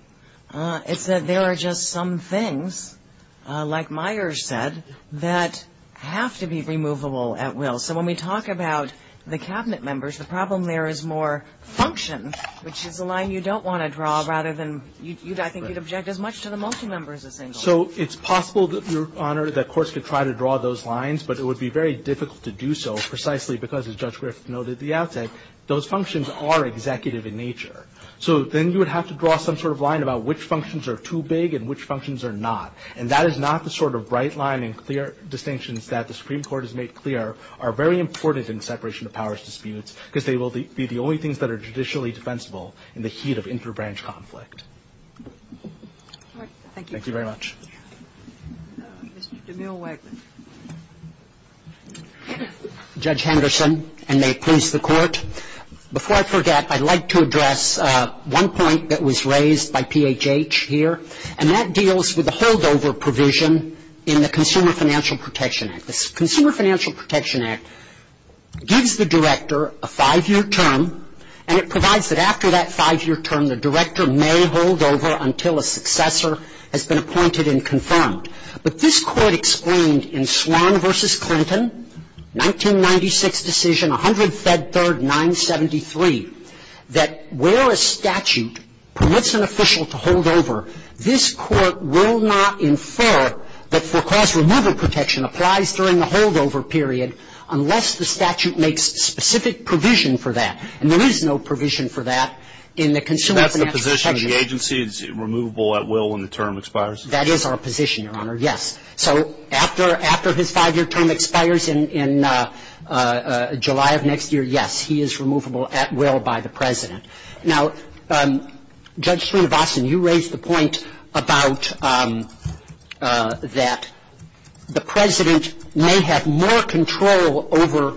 It's that there are just some things, like Myers said, that have to be removable at will. So when we talk about the cabinet members, the problem there is more function, which is the line you don't want to draw, rather than you'd, I think, object as much to the multi-members as single. So it's possible, Your Honor, that courts could try to draw those lines, but it would be very difficult to do so precisely because, as Judge Rift noted at the outset, those functions are executive in nature. So then you would have to draw some sort of line about which functions are too big and which functions are not, and that is not the sort of bright line and clear distinctions that the Supreme Court has made clear are very important in separation of powers disputes, because they will be the only things that are judicially defensible in the heat of inter-branch conflict. Thank you very much. Judge Henderson, and may it please the Court. Before I forget, I'd like to address one point that was raised by PHH here, and that deals with the holdover provision in the Consumer Financial Protection Act. The Consumer Financial Protection Act gives the director a five-year term, and it provides that after that five-year term the director may hold over until a successor has been appointed and confirmed. But this Court explained in Swan v. Clinton, 1996 decision, 100-Fed-3rd-973, that where a statute permits an official to hold over, this Court will not infer that for cause removal protection applies during the holdover period unless the statute makes specific provision for that. And there is no provision for that in the Consumer Financial Protection Act. Is that the position the agency is removable at will when the term expires? That is our position, Your Honor, yes. So after his five-year term expires in July of next year, yes, he is removable at will by the President. Now, Judge Srinivasan, you raised the point about that the President may have more control over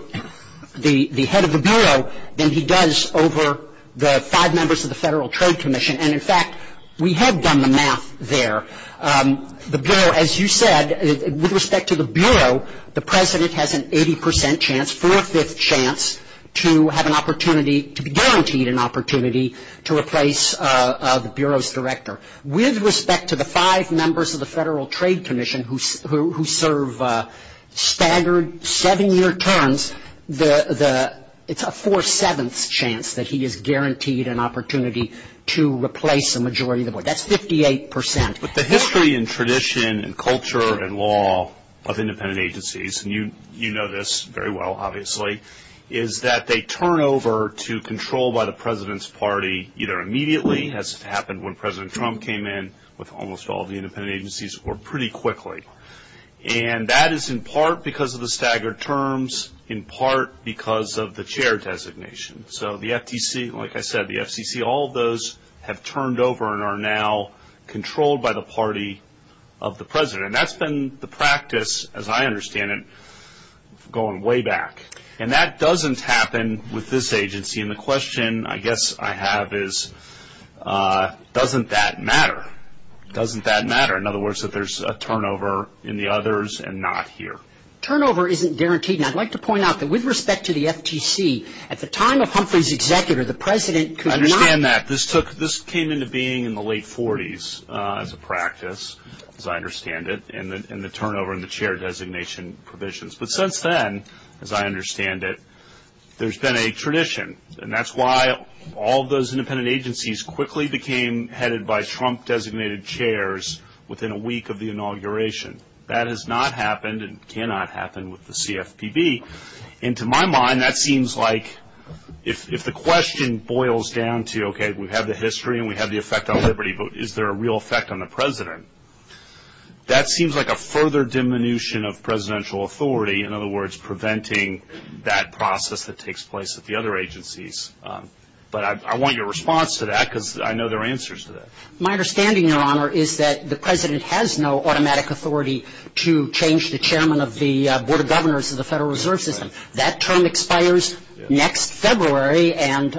the head of the Bureau than he does over the five members of the Federal Trade Commission. And, in fact, we have done the math there. The Bureau, as you said, with respect to the Bureau, the President has an 80 percent chance, a four-fifth chance to have an opportunity, to be guaranteed an opportunity to replace the Bureau's director. With respect to the five members of the Federal Trade Commission who serve standard seven-year terms, it's a four-seventh chance that he is guaranteed an opportunity to replace a majority of the Board. That's 58 percent. The history and tradition and culture and law of independent agencies, and you know this very well, obviously, is that they turn over to control by the President's party either immediately, as happened when President Trump came in with almost all the independent agencies, or pretty quickly. And that is in part because of the staggered terms, in part because of the chair designation. So the FTC, like I said, the FCC, all of those have turned over and are now controlled by the party of the President. And that's been the practice, as I understand it, going way back. And that doesn't happen with this agency. And the question, I guess, I have is, doesn't that matter? Doesn't that matter? In other words, that there's a turnover in the others and not here. Turnover isn't guaranteed. And I'd like to point out that with respect to the FTC, at the time of Humpton's executor, the President could not I understand that. This came into being in the late 40s as a practice, as I understand it, and the turnover and the chair designation provisions. But since then, as I understand it, there's been a tradition. And that's why all those independent agencies quickly became headed by Trump-designated chairs within a week of the inauguration. That has not happened and cannot happen with the CFPB. And to my mind, that seems like if the question boils down to, okay, we have the history and we have the effect on liberty, but is there a real effect on the President, that seems like a further diminution of presidential authority, in other words, preventing that process that takes place at the other agencies. But I want your response to that because I know there are answers to that. My understanding, Your Honor, is that the President has no automatic authority to change the chairman of the Board of Governors of the Federal Reserve System. That term expires next February. And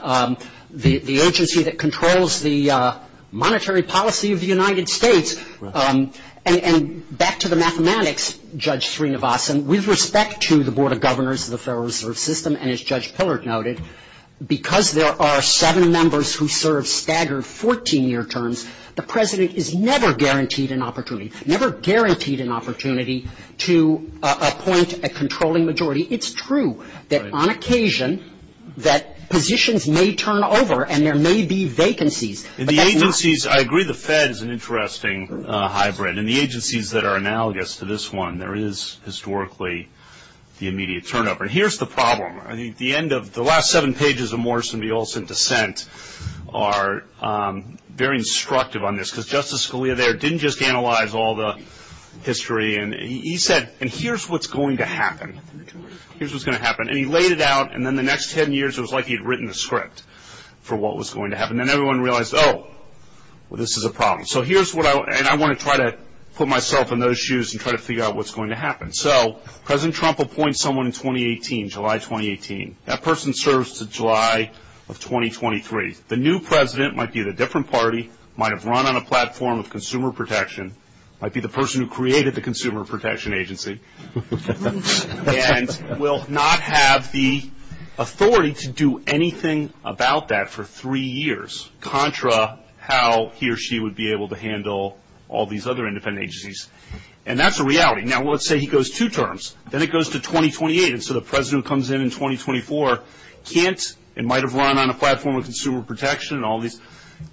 the agency that controls the monetary policy of the United States, and back to the mathematics, Judge Srinivasan, with respect to the Board of Governors of the Federal Reserve System, and as Judge Pillard noted, because there are seven members who serve staggered 14-year terms, the President is never guaranteed an opportunity, never guaranteed an opportunity to appoint a controlling majority. It's true that on occasion that positions may turn over and there may be vacancies. In the agencies, I agree the Fed is an interesting hybrid. In the agencies that are analogous to this one, there is historically the immediate turnover. Here's the problem. The last seven pages of Morrison v. Olson's dissent are very instructive on this because Justice Scalia there didn't just analyze all the history. He said, and here's what's going to happen. Here's what's going to happen. And he laid it out, and then the next ten years it was like he had written a script for what was going to happen. Then everyone realized, oh, this is a problem. And I want to try to put myself in those shoes and try to figure out what's going to happen. So President Trump appoints someone in 2018, July 2018. That person serves to July of 2023. The new president might be at a different party, might have run on a platform of consumer protection, might be the person who created the Consumer Protection Agency, and will not have the authority to do anything about that for three years, contra how he or she would be able to handle all these other independent agencies. And that's a reality. Now, let's say he goes two terms. Then it goes to 2028, and so the president comes in in 2024, can't, and might have run on a platform of consumer protection and all these,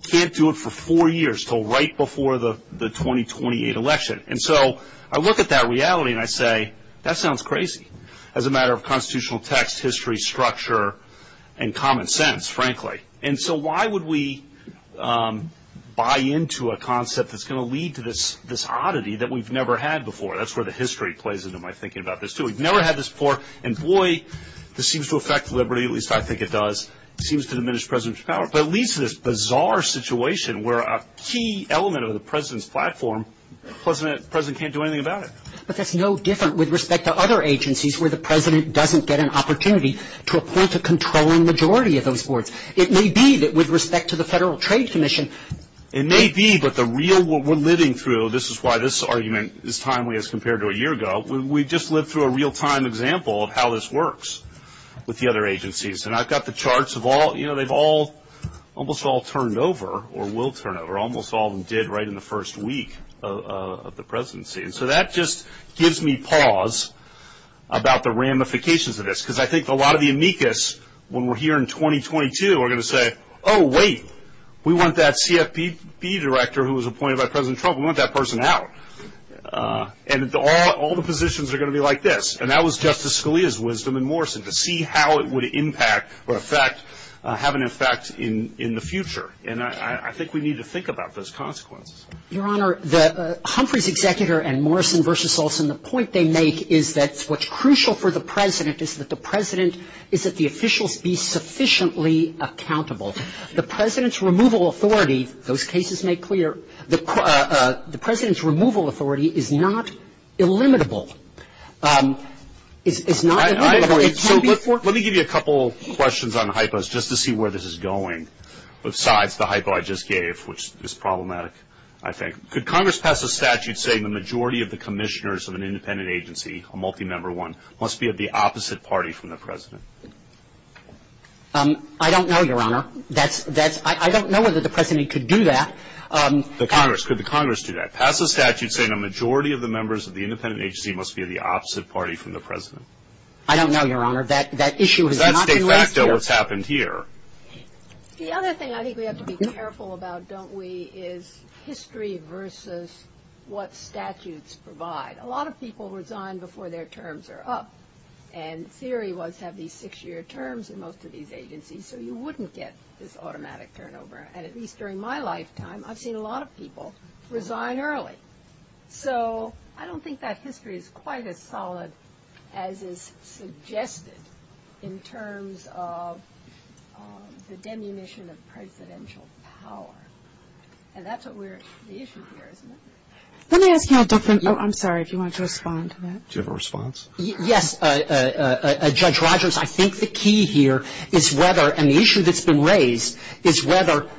can't do it for four years until right before the 2028 election. And so I look at that reality and I say, that sounds crazy as a matter of constitutional text, history, structure, and common sense, frankly. And so why would we buy into a concept that's going to lead to this oddity that we've never had before? That's where the history plays into my thinking about this, too. We've never had this before, and boy, this seems to affect liberty, at least I think it does. It seems to diminish the president's power. But it leads to this bizarre situation where a key element of the president's platform, the president can't do anything about it. But that's no different with respect to other agencies where the president doesn't get an opportunity to oppose a controlling majority of those boards. It may be that with respect to the Federal Trade Commission. It may be, but the real, what we're living through, and so this is why this argument is timely as compared to a year ago. We just lived through a real-time example of how this works with the other agencies. And I've got the charts of all, you know, they've all almost all turned over or will turn over. Almost all of them did right in the first week of the presidency. And so that just gives me pause about the ramifications of this, because I think a lot of uniqueness when we're here in 2022 are going to say, oh, wait, we want that CFPB director who was appointed by President Trump, we want that person out. And all the positions are going to be like this. And that was Justice Scalia's wisdom and Morrison's to see how it would impact or have an effect in the future. And I think we need to think about those consequences. Your Honor, Humphrey's executor and Morrison v. Olson, the point they make is that what's crucial for the president is that the president, is that the officials be sufficiently accountable. The president's removal authority, those cases make clear, the president's removal authority is not illimitable. Let me give you a couple of questions on hypos just to see where this is going, besides the hypo I just gave, which is problematic, I think. Could Congress pass a statute saying the majority of the commissioners of an independent agency, a multi-member one, must be of the opposite party from the president? I don't know, Your Honor. I don't know whether the president could do that. The Congress. Could the Congress do that? Pass a statute saying the majority of the members of the independent agency must be of the opposite party from the president? I don't know, Your Honor. That issue has not been raised here. Let's take back to what's happened here. The other thing I think we have to be careful about, don't we, is history versus what statutes provide. A lot of people resign before their terms are up. And theory was to have these six-year terms in most of these agencies so you wouldn't get this automatic turnover. And at least during my lifetime, I've seen a lot of people resign early. So I don't think that history is quite as solid as is suggested in terms of the demunition of presidential power. And that's the issue here, isn't it? Let me ask you a different question. I'm sorry, do you want to respond to that? Do you have a response? Yes, Judge Rogers, I think the key here is whether and the issue that's been raised is whether,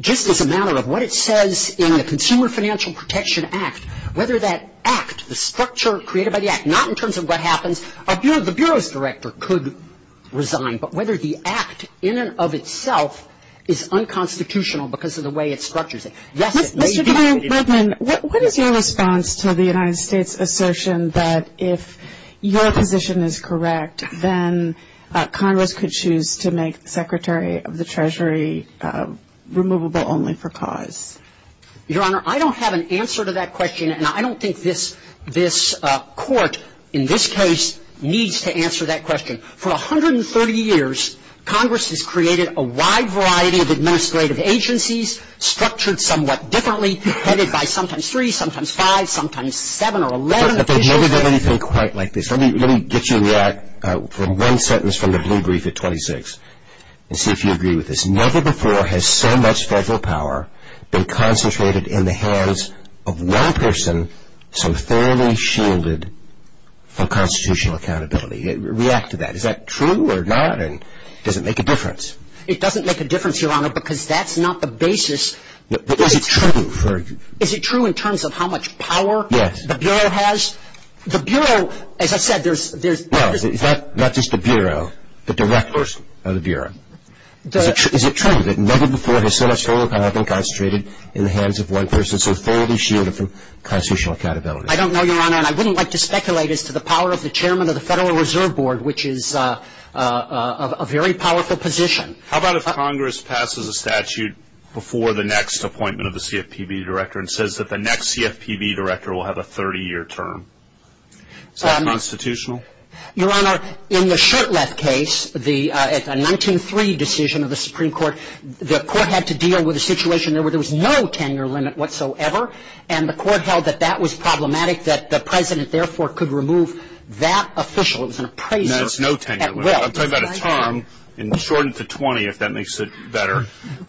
just as a matter of what it says in the Consumer Financial Protection Act, whether that act, the structure created by the act, not in terms of what happens, the Bureau's director could resign, but whether the act in and of itself is unconstitutional because of the way it's structured. Mr. Chairman, what is your response to the United States' assertion that if your position is correct, then Congress could choose to make Secretary of the Treasury removable only for cause? Your Honor, I don't have an answer to that question, and I don't think this court, in this case, needs to answer that question. For 130 years, Congress has created a wide variety of administrative agencies, structured somewhat differently, headed by sometimes three, sometimes five, sometimes seven or 11. But they've never done anything quite like this. Let me get you that from one sentence from the blue brief at 26 and see if you agree with this. Never before has so much federal power been concentrated in the hands of one person so thoroughly shielded of constitutional accountability. React to that. Is that true or not, and does it make a difference? It doesn't make a difference, Your Honor, because that's not the basis. But is it true? Is it true in terms of how much power the Bureau has? The Bureau, as I said, there's... No, not just the Bureau, the direct person of the Bureau. Is it true that never before has so much federal power been concentrated in the hands of one person so thoroughly shielded of constitutional accountability? I don't know, Your Honor, and I wouldn't like to speculate as to the power of the Chairman of the Federal Reserve Board, which is a very powerful position. How about if Congress passes a statute before the next appointment of the CFPB Director and says that the next CFPB Director will have a 30-year term? Is that constitutional? Your Honor, in the Shertleff case, the 1903 decision of the Supreme Court, the Court had to deal with a situation where there was no tenure limit whatsoever, and the Court held that that was problematic, that the President, therefore, could remove that official. It was an appraiser at will. No, it's no tenure limit. I'm talking about a term shortened to 20, if that makes it better,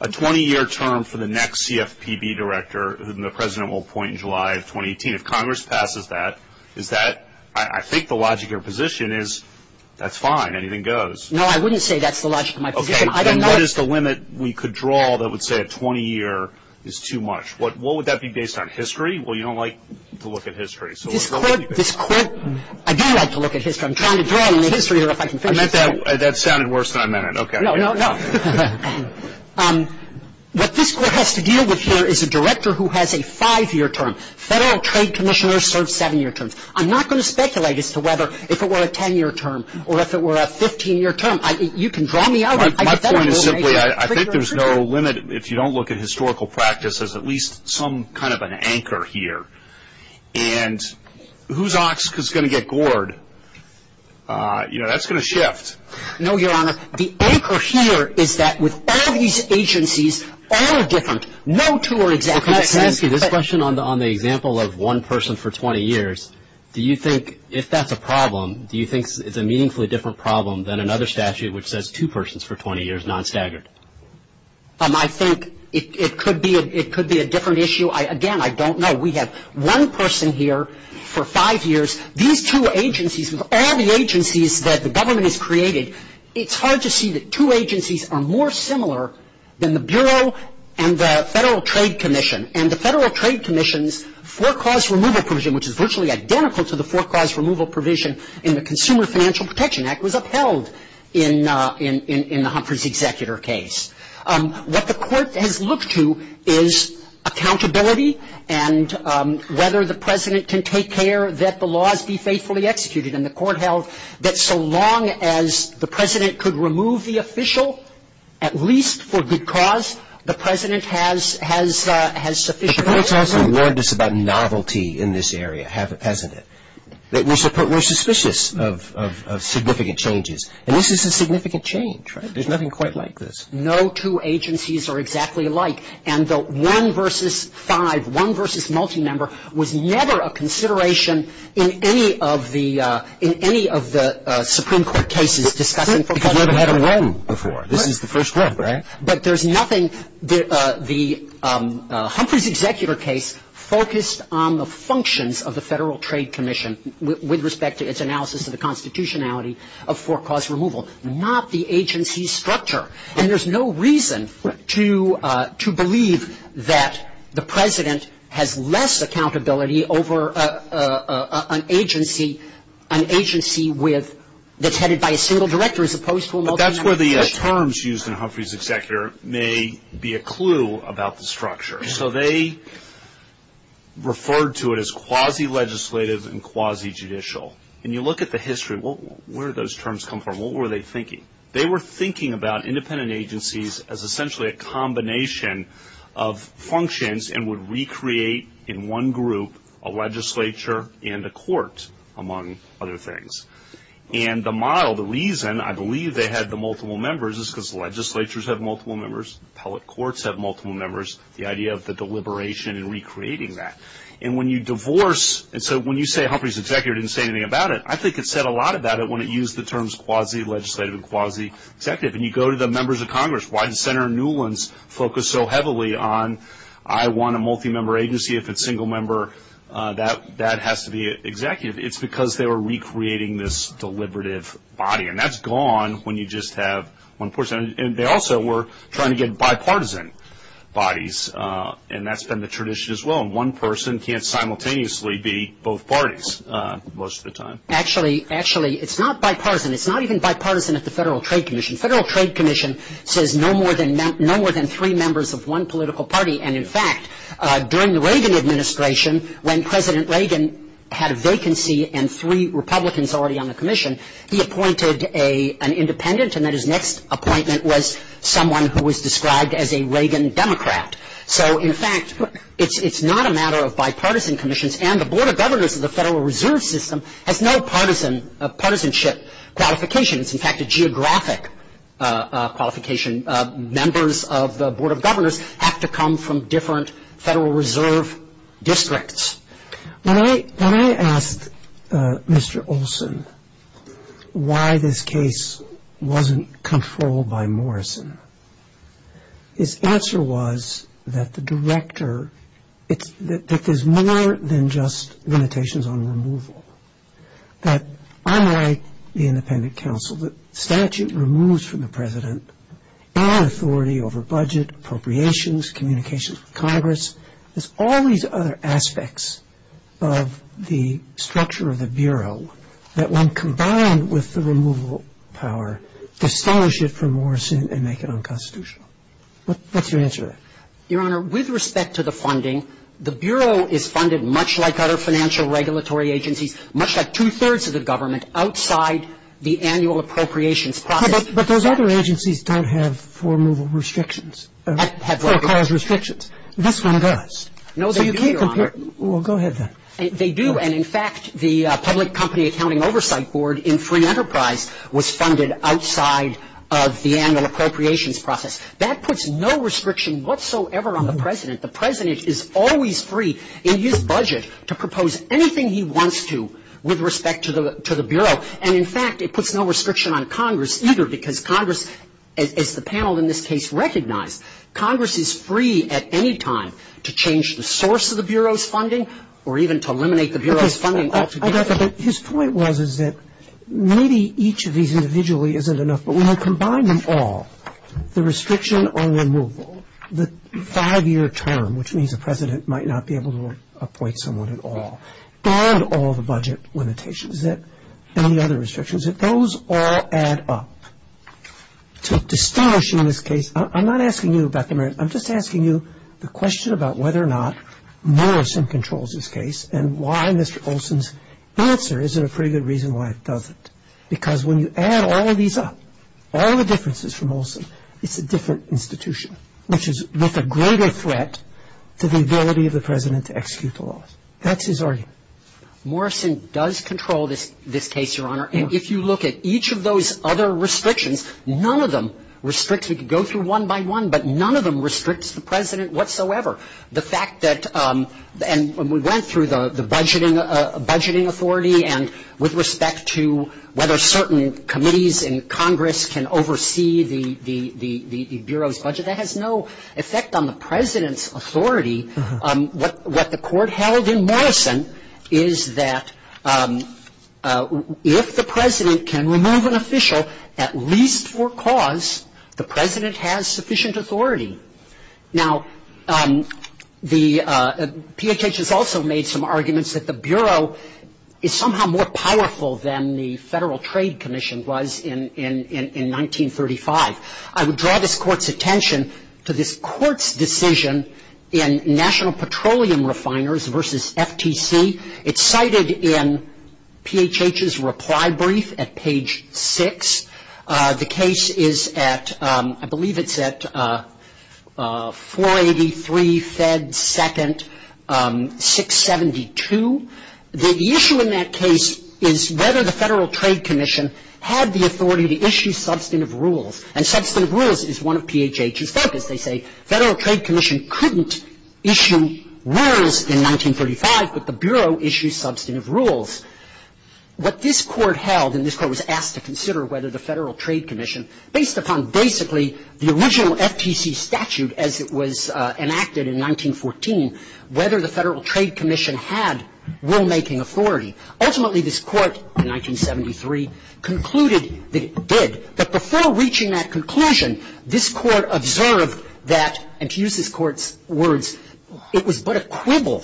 a 20-year term for the next CFPB Director whom the President will appoint in July of 2018. If Congress passes that, is that... I think the logic of your position is that's fine, anything goes. No, I wouldn't say that's the logic of my position. Okay, then what is the limit we could draw that would say a 20-year is too much? What would that be based on, history? Well, you don't like to look at history, so let's go with history. This Court, I do like to look at history. I'm trying to draw on the history here. That sounded worse than I meant it. No, no, no. What this Court has to deal with here is a Director who has a 5-year term. Federal Trade Commissioners serve 7-year terms. I'm not going to speculate as to whether if it were a 10-year term or if it were a 15-year term. You can draw me out. My point is simply I think there's no limit if you don't look at historical practice as at least some kind of an anchor here. And whose ox is going to get gored? You know, that's going to shift. No, Your Honor, the anchor here is that with all these agencies, all are different. No two are exactly the same. This question on the example of one person for 20 years, do you think if that's a problem, do you think it's a meaningfully different problem than another statute which says two persons for 20 years, non-staggered? I think it could be a different issue. Again, I don't know. We have one person here for five years. These two agencies, of all the agencies that the government has created, it's hard to see that two agencies are more similar than the Bureau and the Federal Trade Commission. And the Federal Trade Commission's forecast removal provision, which is virtually identical to the forecast removal provision in the Consumer Financial Protection Act, was upheld in the Humphrey's executor case. What the court has looked to is accountability and whether the president can take care that the laws be faithfully executed. And the court held that so long as the president could remove the official, at least for good cause, the president has sufficient authority. The court also warned us about novelty in this area, have a president. We're suspicious of significant changes. And this is a significant change, right? It's nothing quite like this. No two agencies are exactly alike. And the one versus five, one versus multi-member, was never a consideration in any of the Supreme Court cases discussing forecast removal. We haven't had a run before. This is the first run, right? But there's nothing. The Humphrey's executor case focused on the functions of the Federal Trade Commission with respect to its analysis of the constitutionality of forecast removal, not the agency structure. And there's no reason to believe that the president has less accountability over an agency that's headed by a single director as opposed to a multi-member. That's where the terms used in Humphrey's executor may be a clue about the structure. So they referred to it as quasi-legislative and quasi-judicial. And you look at the history, where do those terms come from? What were they thinking? They were thinking about independent agencies as essentially a combination of functions and would recreate in one group a legislature and a court, among other things. And the mild reason, I believe they had the multiple members, is because legislatures have multiple members, appellate courts have multiple members, the idea of the deliberation and recreating that. And when you divorce, and so when you say Humphrey's executor didn't say anything about it, I think it said a lot about it when it used the terms quasi-legislative and quasi-executive. And you go to the members of Congress, why did Senator Newlin's focus so heavily on, I want a multi-member agency, if it's single member, that has to be executive. It's because they were recreating this deliberative body. And that's gone when you just have one person. And they also were trying to get bipartisan bodies, and that's been the tradition as well. One person can't simultaneously be both parties most of the time. Actually, it's not bipartisan. It's not even bipartisan at the Federal Trade Commission. Federal Trade Commission says no more than three members of one political party. And, in fact, during the Reagan administration, when President Reagan had a vacancy and three Republicans already on the commission, he appointed an independent, and then his next appointment was someone who was described as a Reagan Democrat. So, in fact, it's not a matter of bipartisan commissions, and the Board of Governors of the Federal Reserve System has no partisanship qualifications. In fact, the geographic qualification members of the Board of Governors have to come from different Federal Reserve districts. When I asked Mr. Olson why this case wasn't controlled by Morrison, his answer was that the director, that there's more than just limitations on removal. I'm like the independent counsel. The statute removes from the president all authority over budget, appropriations, communications with Congress. There's all these other aspects of the structure of the Bureau that, when combined with the removal power, distinguish it from Morrison and make it unconstitutional. What's your answer? Your Honor, with respect to the funding, the Bureau is funded much like other financial regulatory agencies, much like two-thirds of the government, outside the annual appropriations process. But those other agencies don't have full removal restrictions. This one does. No, they do, Your Honor. Well, go ahead then. They do. And, in fact, the Public Company Accounting Oversight Board in free enterprise was funded outside of the annual appropriations process. That puts no restriction whatsoever on the president. The president is always free in his budget to propose anything he wants to with respect to the Bureau. And, in fact, it puts no restriction on Congress either, because Congress, as the panel in this case recognized, Congress is free at any time to change the source of the Bureau's funding or even to eliminate the Bureau's funding altogether. His point was that maybe each of these individually isn't enough, but when you combine them all, the restriction on removal, the five-year term, which means the president might not be able to appoint someone at all, and all the budget limitations, any other restrictions, if those all add up to establishing this case, I'm not asking you about the merits. I'm just asking you the question about whether or not Morrison controls this case and why Mr. Olson's answer isn't a pretty good reason why it doesn't. Because when you add all of these up, all the differences from Olson, it's a different institution, which is with a greater threat to the ability of the president to execute the laws. That's his argument. Morrison does control this case, Your Honor, and if you look at each of those other restrictions, none of them restricts it to go through one by one, but none of them restricts the president whatsoever. The fact that when we went through the budgeting authority and with respect to whether certain committees in Congress can oversee the Bureau's budget, that has no effect on the president's authority. What the court held in Morrison is that if the president can remove an official at least for cause, the president has sufficient authority. Now, PHS has also made some arguments that the Bureau is somehow more powerful than the Federal Trade Commission was in 1935. I would draw this court's attention to this court's decision in National Petroleum Refiners versus FTC. It's cited in PHH's reply brief at page 6. The case is at, I believe it's at 483 Fed 2nd, 672. The issue in that case is whether the Federal Trade Commission had the authority to issue substantive rules, and substantive rules is one of PHH's methods. They say Federal Trade Commission couldn't issue rules in 1935, but the Bureau issues substantive rules. What this court held, and this court was asked to consider whether the Federal Trade Commission, based upon basically the original FTC statute as it was enacted in 1914, whether the Federal Trade Commission had rulemaking authority. Ultimately, this court in 1973 concluded that it did, but before reaching that conclusion, this court observed that, and to use this court's words, it was but a quibble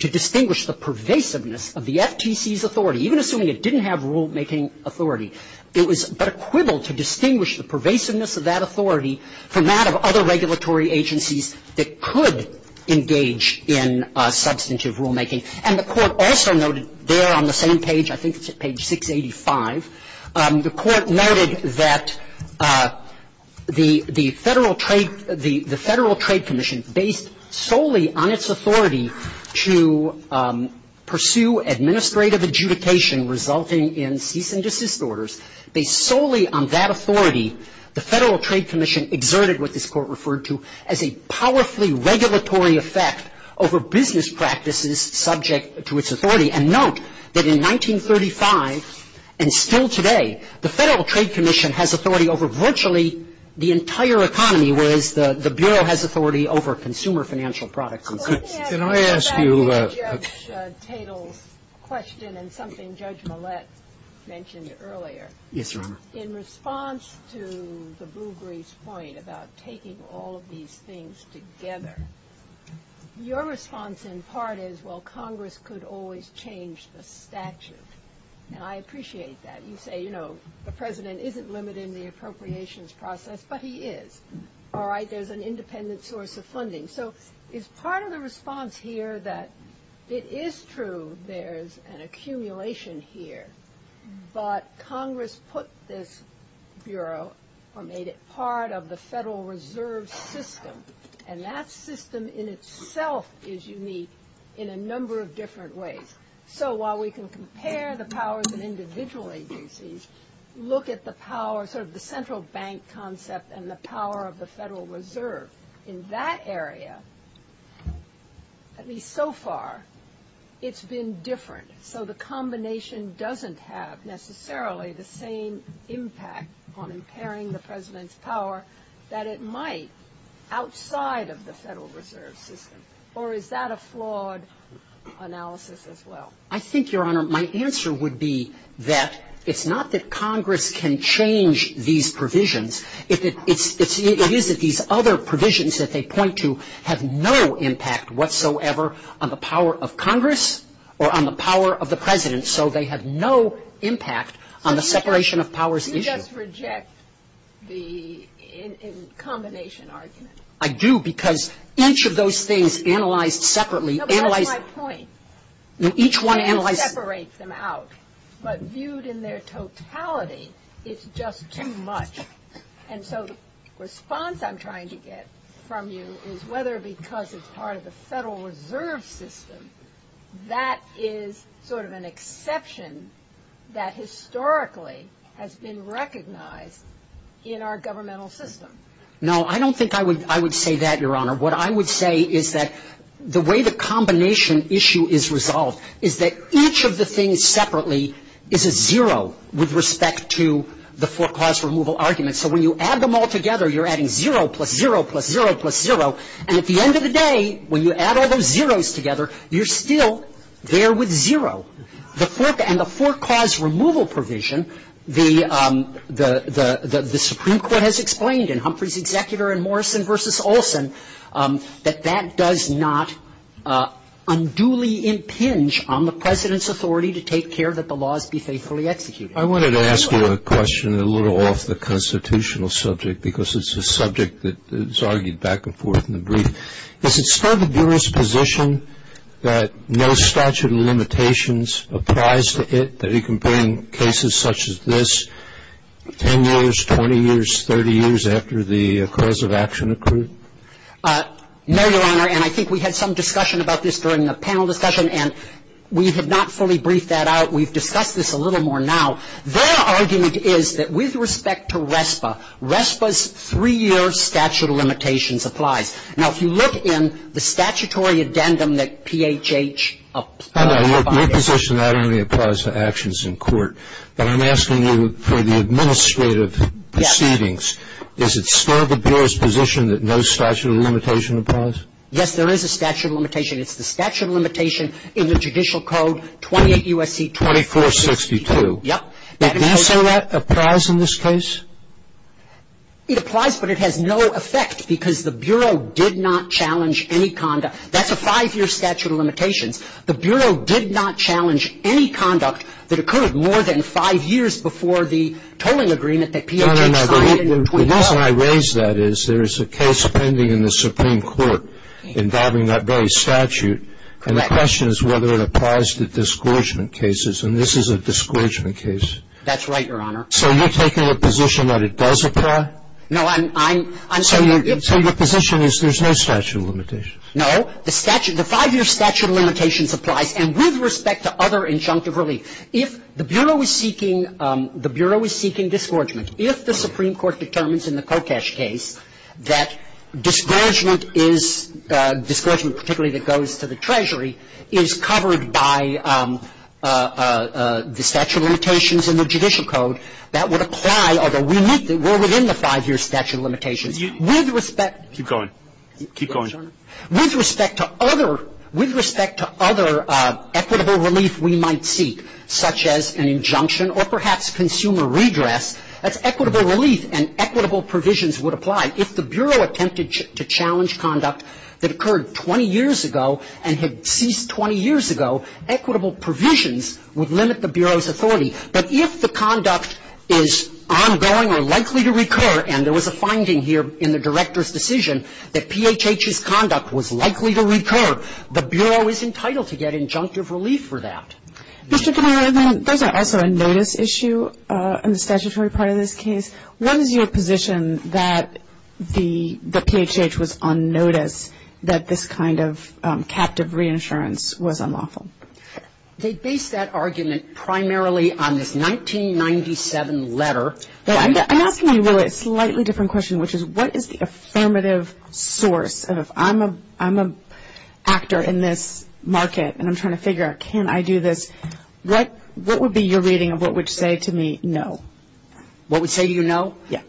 to distinguish the pervasiveness of the FTC's authority, even assuming it didn't have rulemaking authority. It was but a quibble to distinguish the pervasiveness of that authority from that of other regulatory agencies that could engage in substantive rulemaking, and the court also noted there on the same page, I think it's at page 685, the court noted that the Federal Trade Commission, based solely on its authority to pursue administrative adjudication resulting in cease and desist orders, based solely on that authority, the Federal Trade Commission exerted what this court referred to as a powerfully regulatory effect over business practices subject to its authority, and note that in 1935, and still today, the Federal Trade Commission has authority over virtually the entire economy, whereas the Bureau has authority over consumer financial product groups. Let me ask you a back and forth question, and something Judge Millett mentioned earlier. Yes, Your Honor. In response to the Bougry's point about taking all these things together, your response in part is, well, Congress could always change the statute, and I appreciate that. You say, you know, the President isn't limited in the appropriations process, but he is. All right, there's an independent source of funding. So is part of the response here that it is true there's an accumulation here, but Congress put this Bureau or made it part of the Federal Reserve System, and that system in itself is unique in a number of different ways. So while we can compare the powers of individual agencies, look at the powers of the central bank concept and the power of the Federal Reserve. In that area, I mean, so far, it's been different. So the combination doesn't have necessarily the same impact on comparing the President's power that it might outside of the Federal Reserve System. Or is that a flawed analysis as well? I think, Your Honor, my answer would be that it's not that Congress can change these provisions. It is that these other provisions that they point to have no impact whatsoever on the power of Congress or on the power of the President, so they have no impact on the separation of powers issue. You just reject the combination argument. I do, because each of those things analyzed separately. That's not my point. Separates them out, but viewed in their totality, it's just too much. And so the response I'm trying to get from you is whether because it's part of the Federal Reserve System, that is sort of an exception that historically has been recognized in our governmental system. No, I don't think I would say that, Your Honor. What I would say is that the way the combination issue is resolved is that each of the things separately is a zero with respect to the for-cause removal argument. So when you add them all together, you're adding zero plus zero plus zero plus zero. And at the end of the day, when you add all those zeros together, you're still there with zero. And the for-cause removal provision, the Supreme Court has explained, and Humphrey's executor and Morrison versus Olson, that that does not unduly impinge on the President's authority to take care that the laws be faithfully executed. I wanted to ask you a question a little off the constitutional subject, because it's a subject that's argued back and forth in the brief. Is it still the jurist's position that no statute of limitations applies to it, that you can bring cases such as this 10 years, 20 years, 30 years after the cause of action accrued? No, Your Honor, and I think we had some discussion about this during the panel discussion, and we have not fully briefed that out. We've discussed this a little more now. Their argument is that with respect to RESPA, RESPA's three-year statute of limitations applies. Now, if you look in the statutory addendum that PHH applies to it. Your position not only applies to actions in court, but I'm asking you for the administrative proceedings. Is it still the jurist's position that no statute of limitation applies? Yes, there is a statute of limitation. It's the statute of limitation in the judicial code 28 U.S.C. 2462. Yep. Does that apply in this case? It applies, but it has no effect, because the Bureau did not challenge any conduct. That's a five-year statute of limitation. The Bureau did not challenge any conduct that occurred more than five years before the tolling agreement that PHH applied in. No, no, no. The reason I raise that is there is a case pending in the Supreme Court involving that very statute, and the question is whether it applies to discouragement cases, and this is a discouragement case. That's right, Your Honor. So you're taking the position that it does apply? No, I'm sorry. So your position is there's no statute of limitation? No. The statute, the five-year statute of limitations applies, and with respect to other injunctive relief, if the Bureau is seeking, the Bureau is seeking discouragement, if the Supreme Court determines in the Kokesh case that discouragement is, discouragement particularly that goes to the Treasury, is covered by the statute of limitations in the judicial code, that would apply, although we're within the five-year statute of limitations. With respect to... Keep going. Keep going. With respect to other equitable relief we might seek, such as an injunction or perhaps consumer redress, that's equitable relief, and equitable provisions would apply. If the Bureau attempted to challenge conduct that occurred 20 years ago and had ceased 20 years ago, equitable provisions would limit the Bureau's authority. But if the conduct is ongoing or likely to recur, and there was a finding here in the Director's decision that PHH's conduct was likely to recur, the Bureau is entitled to get injunctive relief for that. Mr. Fenneman, there's also a notice issue in the statutory part of this case. What is your position that the PHH was on notice that this kind of captive reinsurance was unlawful? They base that argument primarily on this 1997 letter. I'm asking you really a slightly different question, which is what is the affirmative source? And if I'm an actor in this market and I'm trying to figure out can I do this, what would be your reading of what would say to me no? What would say you no? Yes.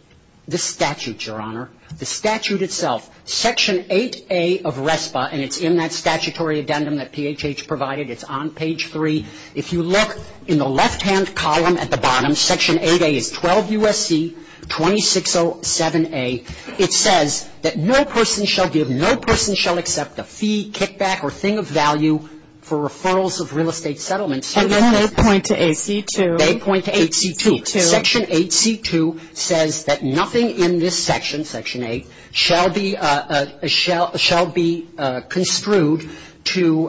The statute, Your Honor. The statute itself, Section 8A of RESPA, and it's in that statutory addendum that PHH provided. It's on page 3. If you look in the left-hand column at the bottom, Section 8A of 12 U.S.C. 2607A, it says that no person shall give, no person shall accept a fee, kickback, or thing of value for referrals of real estate settlements. And then they point to 8C2. They point to 8C2. Section 8C2 says that nothing in this section, Section 8, shall be construed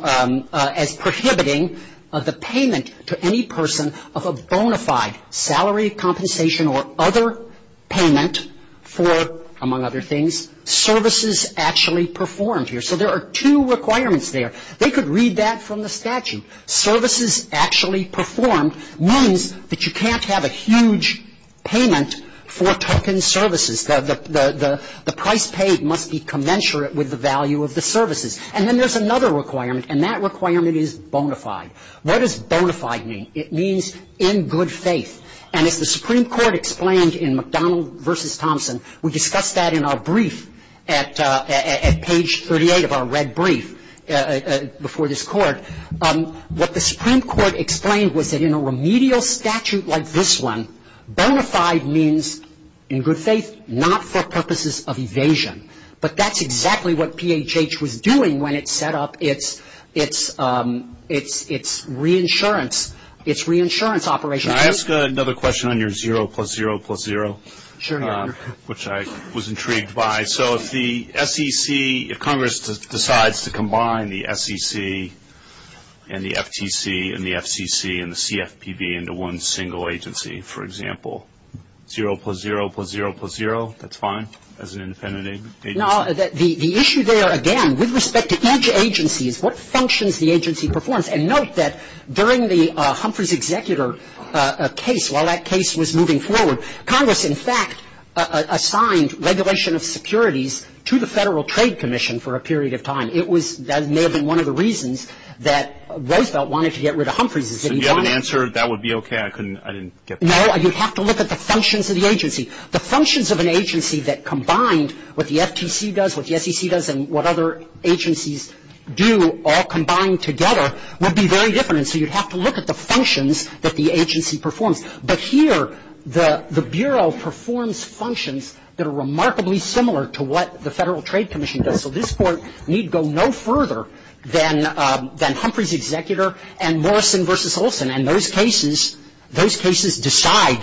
as prohibiting the payment to any person of a bona fide salary compensation or other payment for, among other things, services actually performed here. So there are two requirements there. They could read that from the statute. Services actually performed means that you can't have a huge payment for token services. The price paid must be commensurate with the value of the services. And then there's another requirement, and that requirement is bona fide. What does bona fide mean? It means in good faith. And if the Supreme Court explained in McDonald v. Thompson, we discussed that in our brief at page 38 of our red brief before this court, what the Supreme Court explained was that in a remedial statute like this one, bona fide means, in good faith, not for purposes of evasion. But that's exactly what PHH was doing when it set up its reinsurance operation. Can I ask another question on your 0 plus 0 plus 0, which I was intrigued by? So if the SEC, if Congress decides to combine the SEC and the FTC and the CFPB into one single agency, for example, 0 plus 0 plus 0 plus 0, that's fine as an independent agency? No, the issue there, again, with respect to each agency is what functions the agency performs. And note that during the Humphreys executor case, while that case was moving forward, Congress, in fact, assigned regulation of securities to the Federal Trade Commission for a period of time. That may have been one of the reasons that Roosevelt wanted to get rid of Humphreys. If you had an answer, that would be okay. I didn't get that. No, you'd have to look at the functions of the agency. The functions of an agency that combined what the FTC does, what the SEC does, and what other agencies do all combined together would be very different. So you'd have to look at the functions that the agency performs. But here, the Bureau performs functions that are remarkably similar to what the Federal Trade Commission does. And so this board need go no further than Humphreys executor and Morrison versus Olson. And those cases decide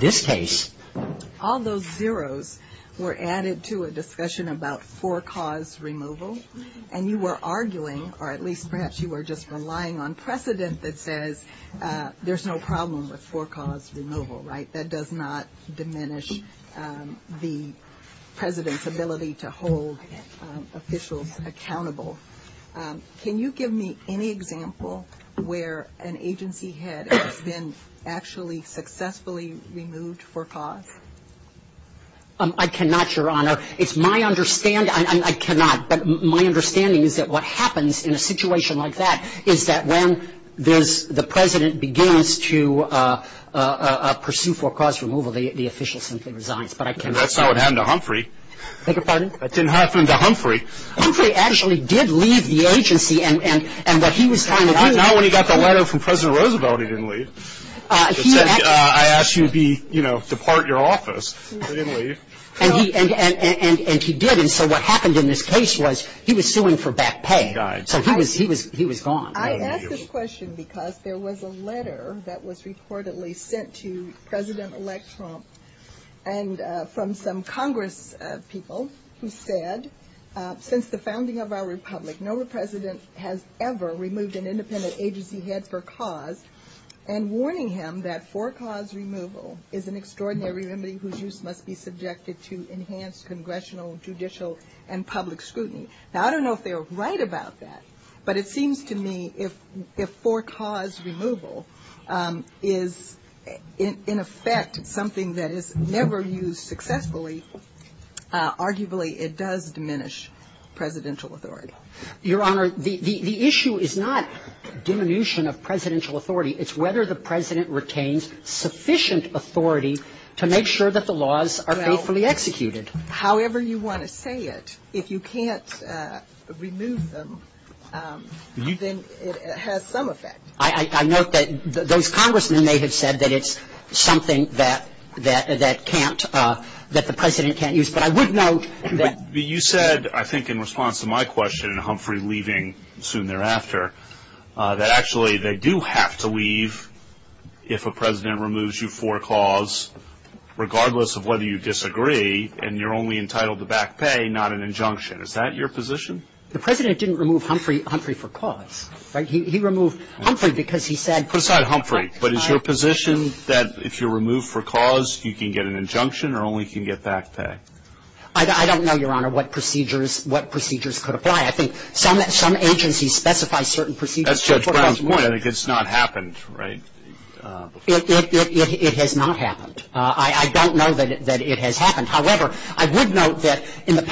this case. All those zeros were added to a discussion about for-cause removal. And you were arguing, or at least perhaps you were just relying on precedent that says there's no problem with for-cause removal, right? That does not diminish the President's ability to hold officials accountable. Can you give me any example where an agency had been actually successfully removed for-cause? I cannot, Your Honor. It's my understanding, I cannot, but my understanding is that what happens in a situation like that is that when the President begins to pursue for-cause removal, the official simply resigns. And that's not what happened to Humphrey. I beg your pardon? That didn't happen to Humphrey. Humphrey actually did leave the agency, and what he was trying to do- Not when he got the letter from President Roosevelt he didn't leave. I asked you to be, you know, to part your office. He didn't leave. And he did, and so what happened in this case was he was suing for back pay. He was gone. I ask this question because there was a letter that was reportedly sent to President-elect Trump and from some Congress people who said, since the founding of our Republic, no President has ever removed an independent agency head for cause, and warning him that for-cause removal is an extraordinary remedy whose use must be subjected to enhanced congressional, judicial, and public scrutiny. Now, I don't know if they were right about that, but it seems to me if for-cause removal is, in effect, something that is never used successfully, arguably it does diminish presidential authority. Your Honor, the issue is not diminution of presidential authority. It's whether the President retains sufficient authority to make sure that the laws are faithfully executed. However you want to say it, if you can't remove them, then it has some effect. I note that those congressmen may have said that it's something that can't, that the President can't use, but I would note that- You said, I think in response to my question, Humphrey leaving soon thereafter, that actually they do have to leave if a President removes you for-cause, regardless of whether you disagree, and you're only entitled to back pay, not an injunction. Is that your position? The President didn't remove Humphrey for cause. He removed Humphrey because he said- Put aside Humphrey. But is your position that if you're removed for cause, you can get an injunction or only can get back pay? I don't know, Your Honor, what procedures could apply. I think some agencies specify certain procedures- That's Judge Brown's point. I think it's not happened, right? It has not happened. I don't know that it has happened. However, I would note that the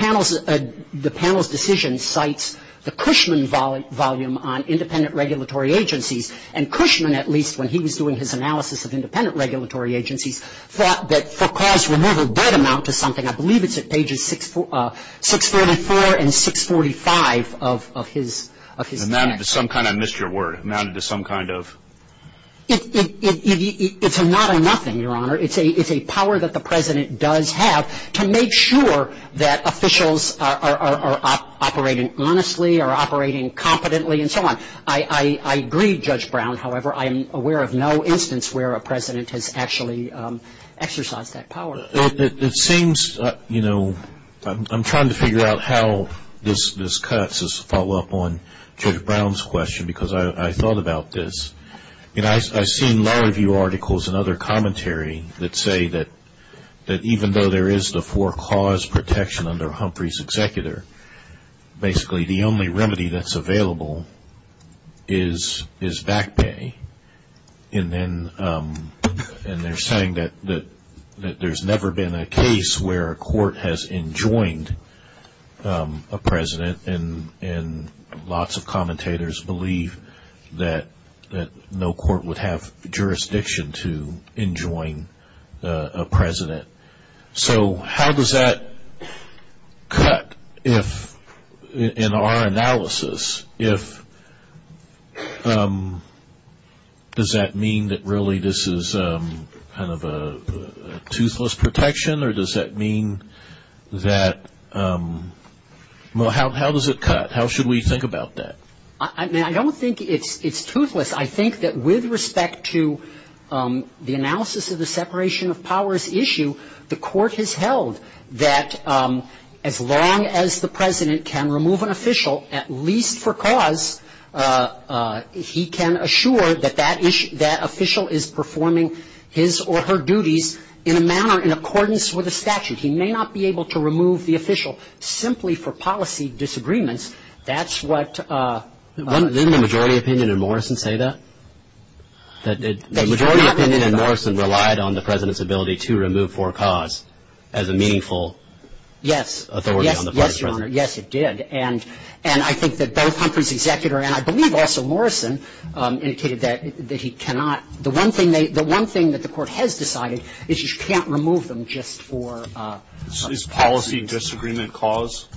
panel's decision cites the Cushman volume on independent regulatory agencies, and Cushman, at least, when he was doing his analysis of independent regulatory agencies, thought that for cause removal did amount to something. I believe it's at pages 644 and 645 of his- Amounted to some kind of, I missed your word, amounted to some kind of- It's a not a nothing, Your Honor. It's a power that the President does have to make sure that officials are operating honestly, are operating competently, and so on. I agree, Judge Brown. However, I am aware of no instance where a President has actually exercised that power. It seems, you know, I'm trying to figure out how this cuts as a follow-up on Judge Brown's question because I thought about this, and I've seen a lot of your articles and other commentary that say that even though there is the for cause protection under Humphrey's executor, basically the only remedy that's available is back pay, and they're saying that there's never been a case where a court has enjoined a President, and lots of commentators believe that no court would have jurisdiction to enjoin a President. So how does that cut in our analysis? Does that mean that really this is kind of a toothless protection, or does that mean that how does it cut? How should we think about that? I don't think it's toothless. I think that with respect to the analysis of the separation of powers issue, the court has held that as long as the President can remove an official at least for cause, he can assure that that official is performing his or her duties in a manner in accordance with the statute. He may not be able to remove the official simply for policy disagreements. That's what... Didn't the majority opinion in Morrison say that? The majority opinion in Morrison relied on the President's ability to remove for cause as a meaningful authority on the President. Yes, Your Honor, yes it did. And I think that both Humphrey's executor and I believe also Morrison indicated that he cannot... The one thing that the court has decided is that you can't remove them just for... Is policy disagreement cause?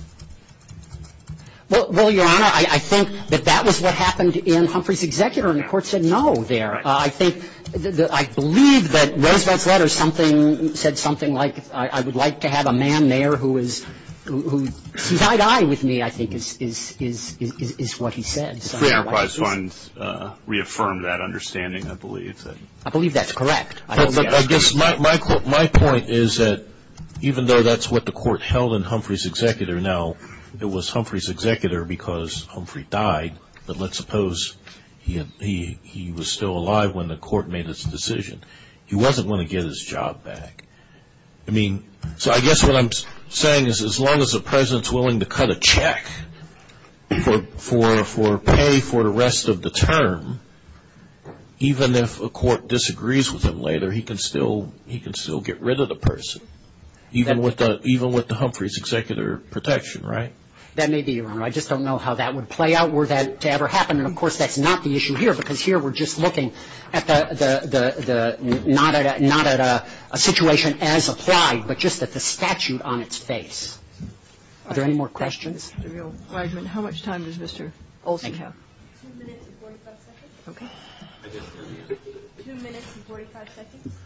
Well, Your Honor, I think that that was what happened in Humphrey's executor, and the court said no there. I think that... I don't know if that letter said something like I would like to have a man there who is... He's eye to eye with me, I think, is what he said. I just want to reaffirm that understanding, I believe. I believe that's correct. My point is that even though that's what the court held in Humphrey's executor, now it was Humphrey's executor because Humphrey died, but let's suppose he was still alive when the court made this decision. He wasn't going to get his job back. I mean, so I guess what I'm saying is as long as the President is willing to cut a check for pay for the rest of the term, even if a court disagrees with him later, he can still get rid of the person, even with the Humphrey's executor protection, right? That may be, Your Honor. I just don't know how that would play out were that to ever happen, and, of course, that's not the issue here because here we're just looking not at a situation as applied, but just at the statute on its face. Are there any more questions? Your Honor, how much time does Mr. Olson have? Two minutes and 45 seconds. Okay. Two minutes and 45 seconds.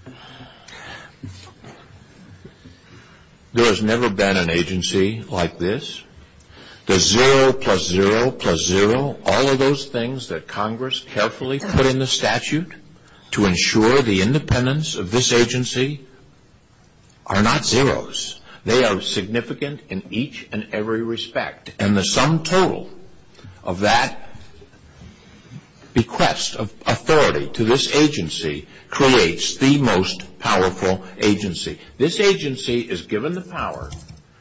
There has never been an agency like this. The zero plus zero plus zero, all of those things that Congress carefully put in the statute to ensure the independence of this agency are not zeros. They are significant in each and every respect, and the sum total of that request of authority to this agency creates the most powerful agency. This agency is given the power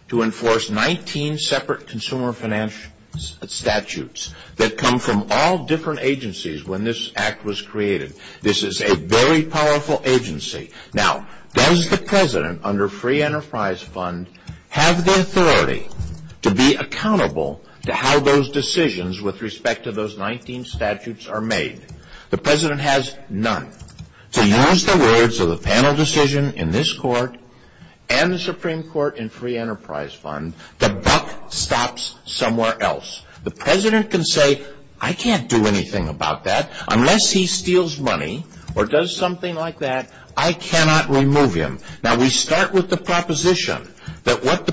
to enforce 19 separate consumer financial statutes that come from all different agencies when this act was created. This is a very powerful agency. Now, does the President, under free enterprise fund, have the authority to be accountable to how those decisions with respect to those 19 statutes are made? The President has none. To use the words of the panel decision in this court and the Supreme Court in free enterprise fund, the buck stops somewhere else. The President can say, I can't do anything about that. Unless he steals money or does something like that, I cannot remove him. Now, we start with the proposition that what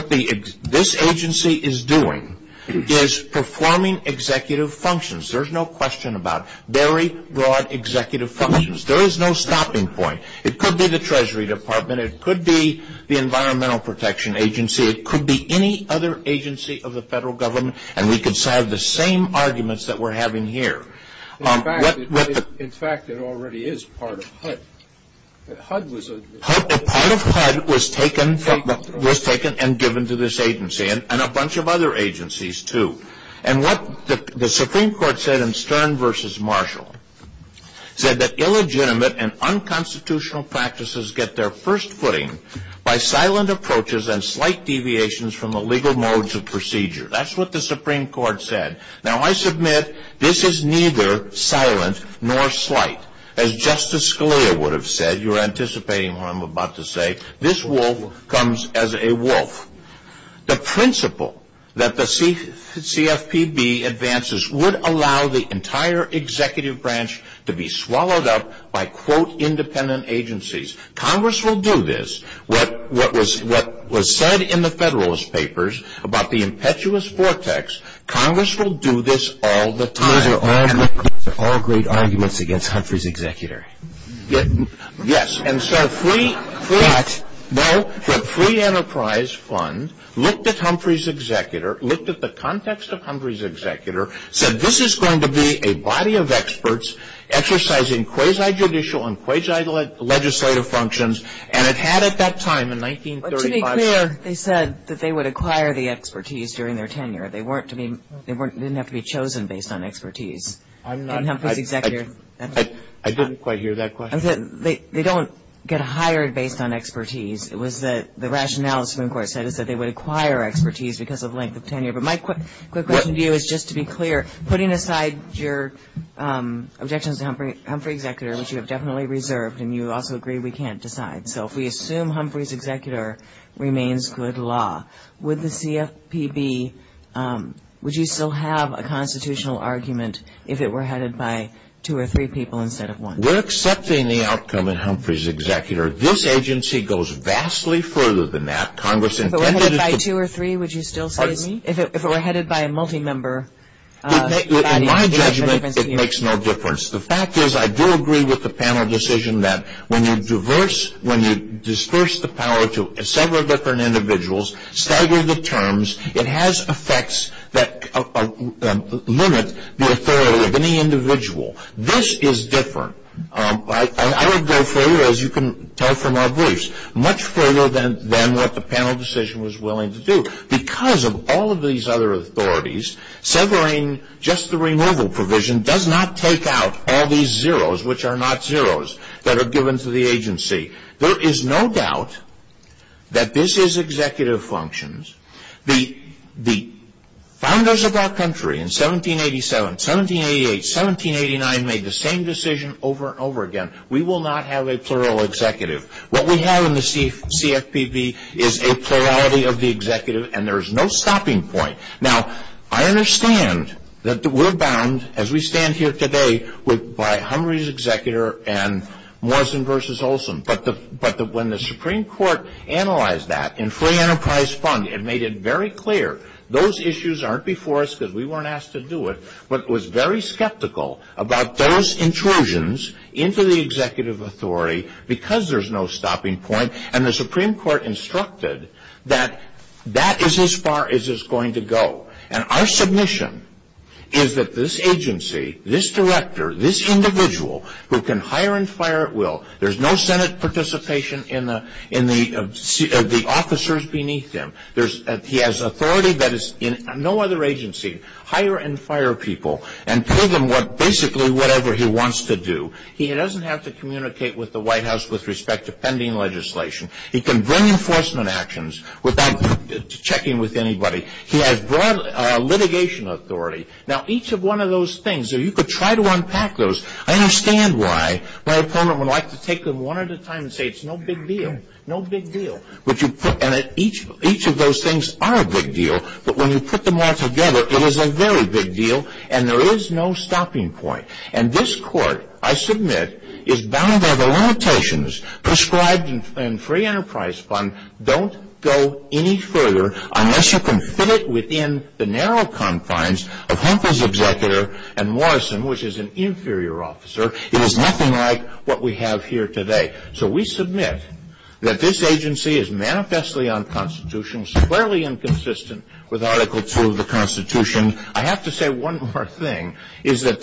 this agency is doing is performing executive functions. There's no question about it. Very broad executive functions. There is no stopping point. It could be the Treasury Department. It could be the Environmental Protection Agency. It could be any other agency of the federal government, and we could have the same arguments that we're having here. In fact, it already is part of HUD. Part of HUD was taken and given to this agency and a bunch of other agencies, too. And what the Supreme Court said in Stern v. Marshall said that illegitimate and unconstitutional practices get their first footing by silent approaches and slight deviations from the legal modes of procedure. That's what the Supreme Court said. Now, I submit this is neither silent nor slight. As Justice Scalia would have said, you're anticipating what I'm about to say, this wolf comes as a wolf. The principle that the CFPB advances would allow the entire executive branch to be swallowed up by, quote, independent agencies. Congress will do this. What was said in the Federalist Papers about the impetuous vortex, Congress will do this all the time. These are all great arguments against Humphrey's executor. Yes. Yes, and so Free Enterprise Fund looked at Humphrey's executor, looked at the context of Humphrey's executor, said this is going to be a body of experts exercising quasi-judicial and quasi-legislative functions, and it had at that time in 1935. To be clear, they said that they would acquire the expertise during their tenure. They didn't have to be chosen based on expertise. I didn't quite hear that question. They don't get hired based on expertise. It was that the rationale the Supreme Court said is that they would acquire expertise because of length of tenure. But my quick question to you is just to be clear, putting aside your objections to Humphrey's executor, which you have definitely reserved and you also agree we can't decide. So if we assume Humphrey's executor remains good law, would the CFPB, would you still have a constitutional argument if it were headed by two or three people instead of one? We're accepting the outcome of Humphrey's executor. This agency goes vastly further than that. If it were headed by two or three, would you still say to me? If it were headed by a multi-member. In my judgment, it makes no difference. The fact is I do agree with the panel decision that when you disperse the power to several different individuals, stagger the terms, it has effects that limit the authority of any individual. This is different. I would go further, as you can tell from our voice, much further than what the panel decision was willing to do. Because of all of these other authorities, severing just the removal provision does not take out all these zeros, which are not zeros, that are given to the agency. There is no doubt that this is executive functions. The founders of that country in 1787, 1788, 1789 made the same decision over and over again. We will not have a plural executive. What we have in the CFPB is a plurality of the executive, and there is no stopping point. Now, I understand that we're bound, as we stand here today, by Humphrey's executor and Morrison versus Olson. But when the Supreme Court analyzed that in Free Enterprise Fund, it made it very clear. Those issues aren't before us because we weren't asked to do it, but it was very skeptical about those intrusions into the executive authority because there's no stopping point. And the Supreme Court instructed that that is as far as it's going to go. And our submission is that this agency, this director, this individual who can hire and fire at will, there's no Senate participation in the officers beneath him. He has authority that is in no other agency, hire and fire people, and tell them basically whatever he wants to do. He doesn't have to communicate with the White House with respect to pending legislation. He can bring enforcement actions without checking with anybody. He has broad litigation authority. Now, each of one of those things, if you could try to unpack those, I understand why my opponent would like to take them one at a time and say it's no big deal. No big deal. And each of those things are a big deal. But when you put them all together, it is a very big deal, and there is no stopping point. And this Court, I submit, is bound by the limitations prescribed in Free Enterprise Fund. Don't go any further unless you can fit it within the narrow confines of Humphrey's executor and Morrison, which is an inferior officer. It is nothing like what we have here today. So we submit that this agency is manifestly unconstitutional, squarely inconsistent with Article 2 of the Constitution. I have to say one more thing, is that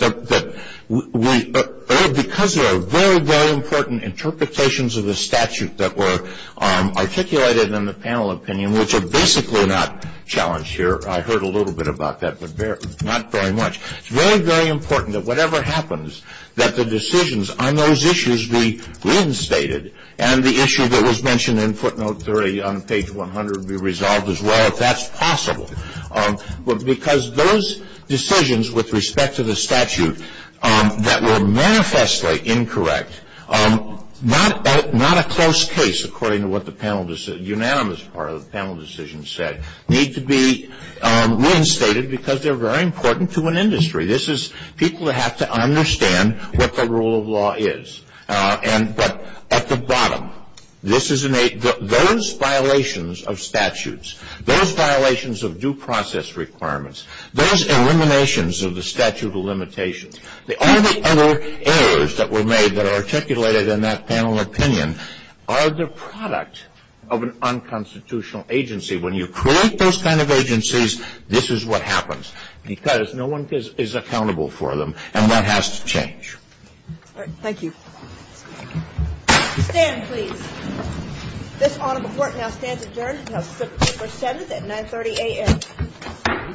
because there are very, very important interpretations of the statute that were articulated in the panel opinion, which are basically not challenged here. I heard a little bit about that, but not very much. It's very, very important that whatever happens, that the decisions on those issues be reinstated, and the issue that was mentioned in footnote 30 on page 100 be resolved as well, if that's possible. Because those decisions with respect to the statute that were manifestly incorrect, not a close case according to what the unanimous part of the panel decision said, need to be reinstated because they're very important to an industry. People have to understand what the rule of law is. But at the bottom, those violations of statutes, those violations of due process requirements, those eliminations of the statute of limitations, all the other errors that were made that are articulated in that panel opinion, are the product of an unconstitutional agency. When you create those kind of agencies, this is what happens. Because no one is accountable for them, and that has to change. Thank you. Stand, please. This honorable court now stands adjourned until September 7th at 9.30 a.m.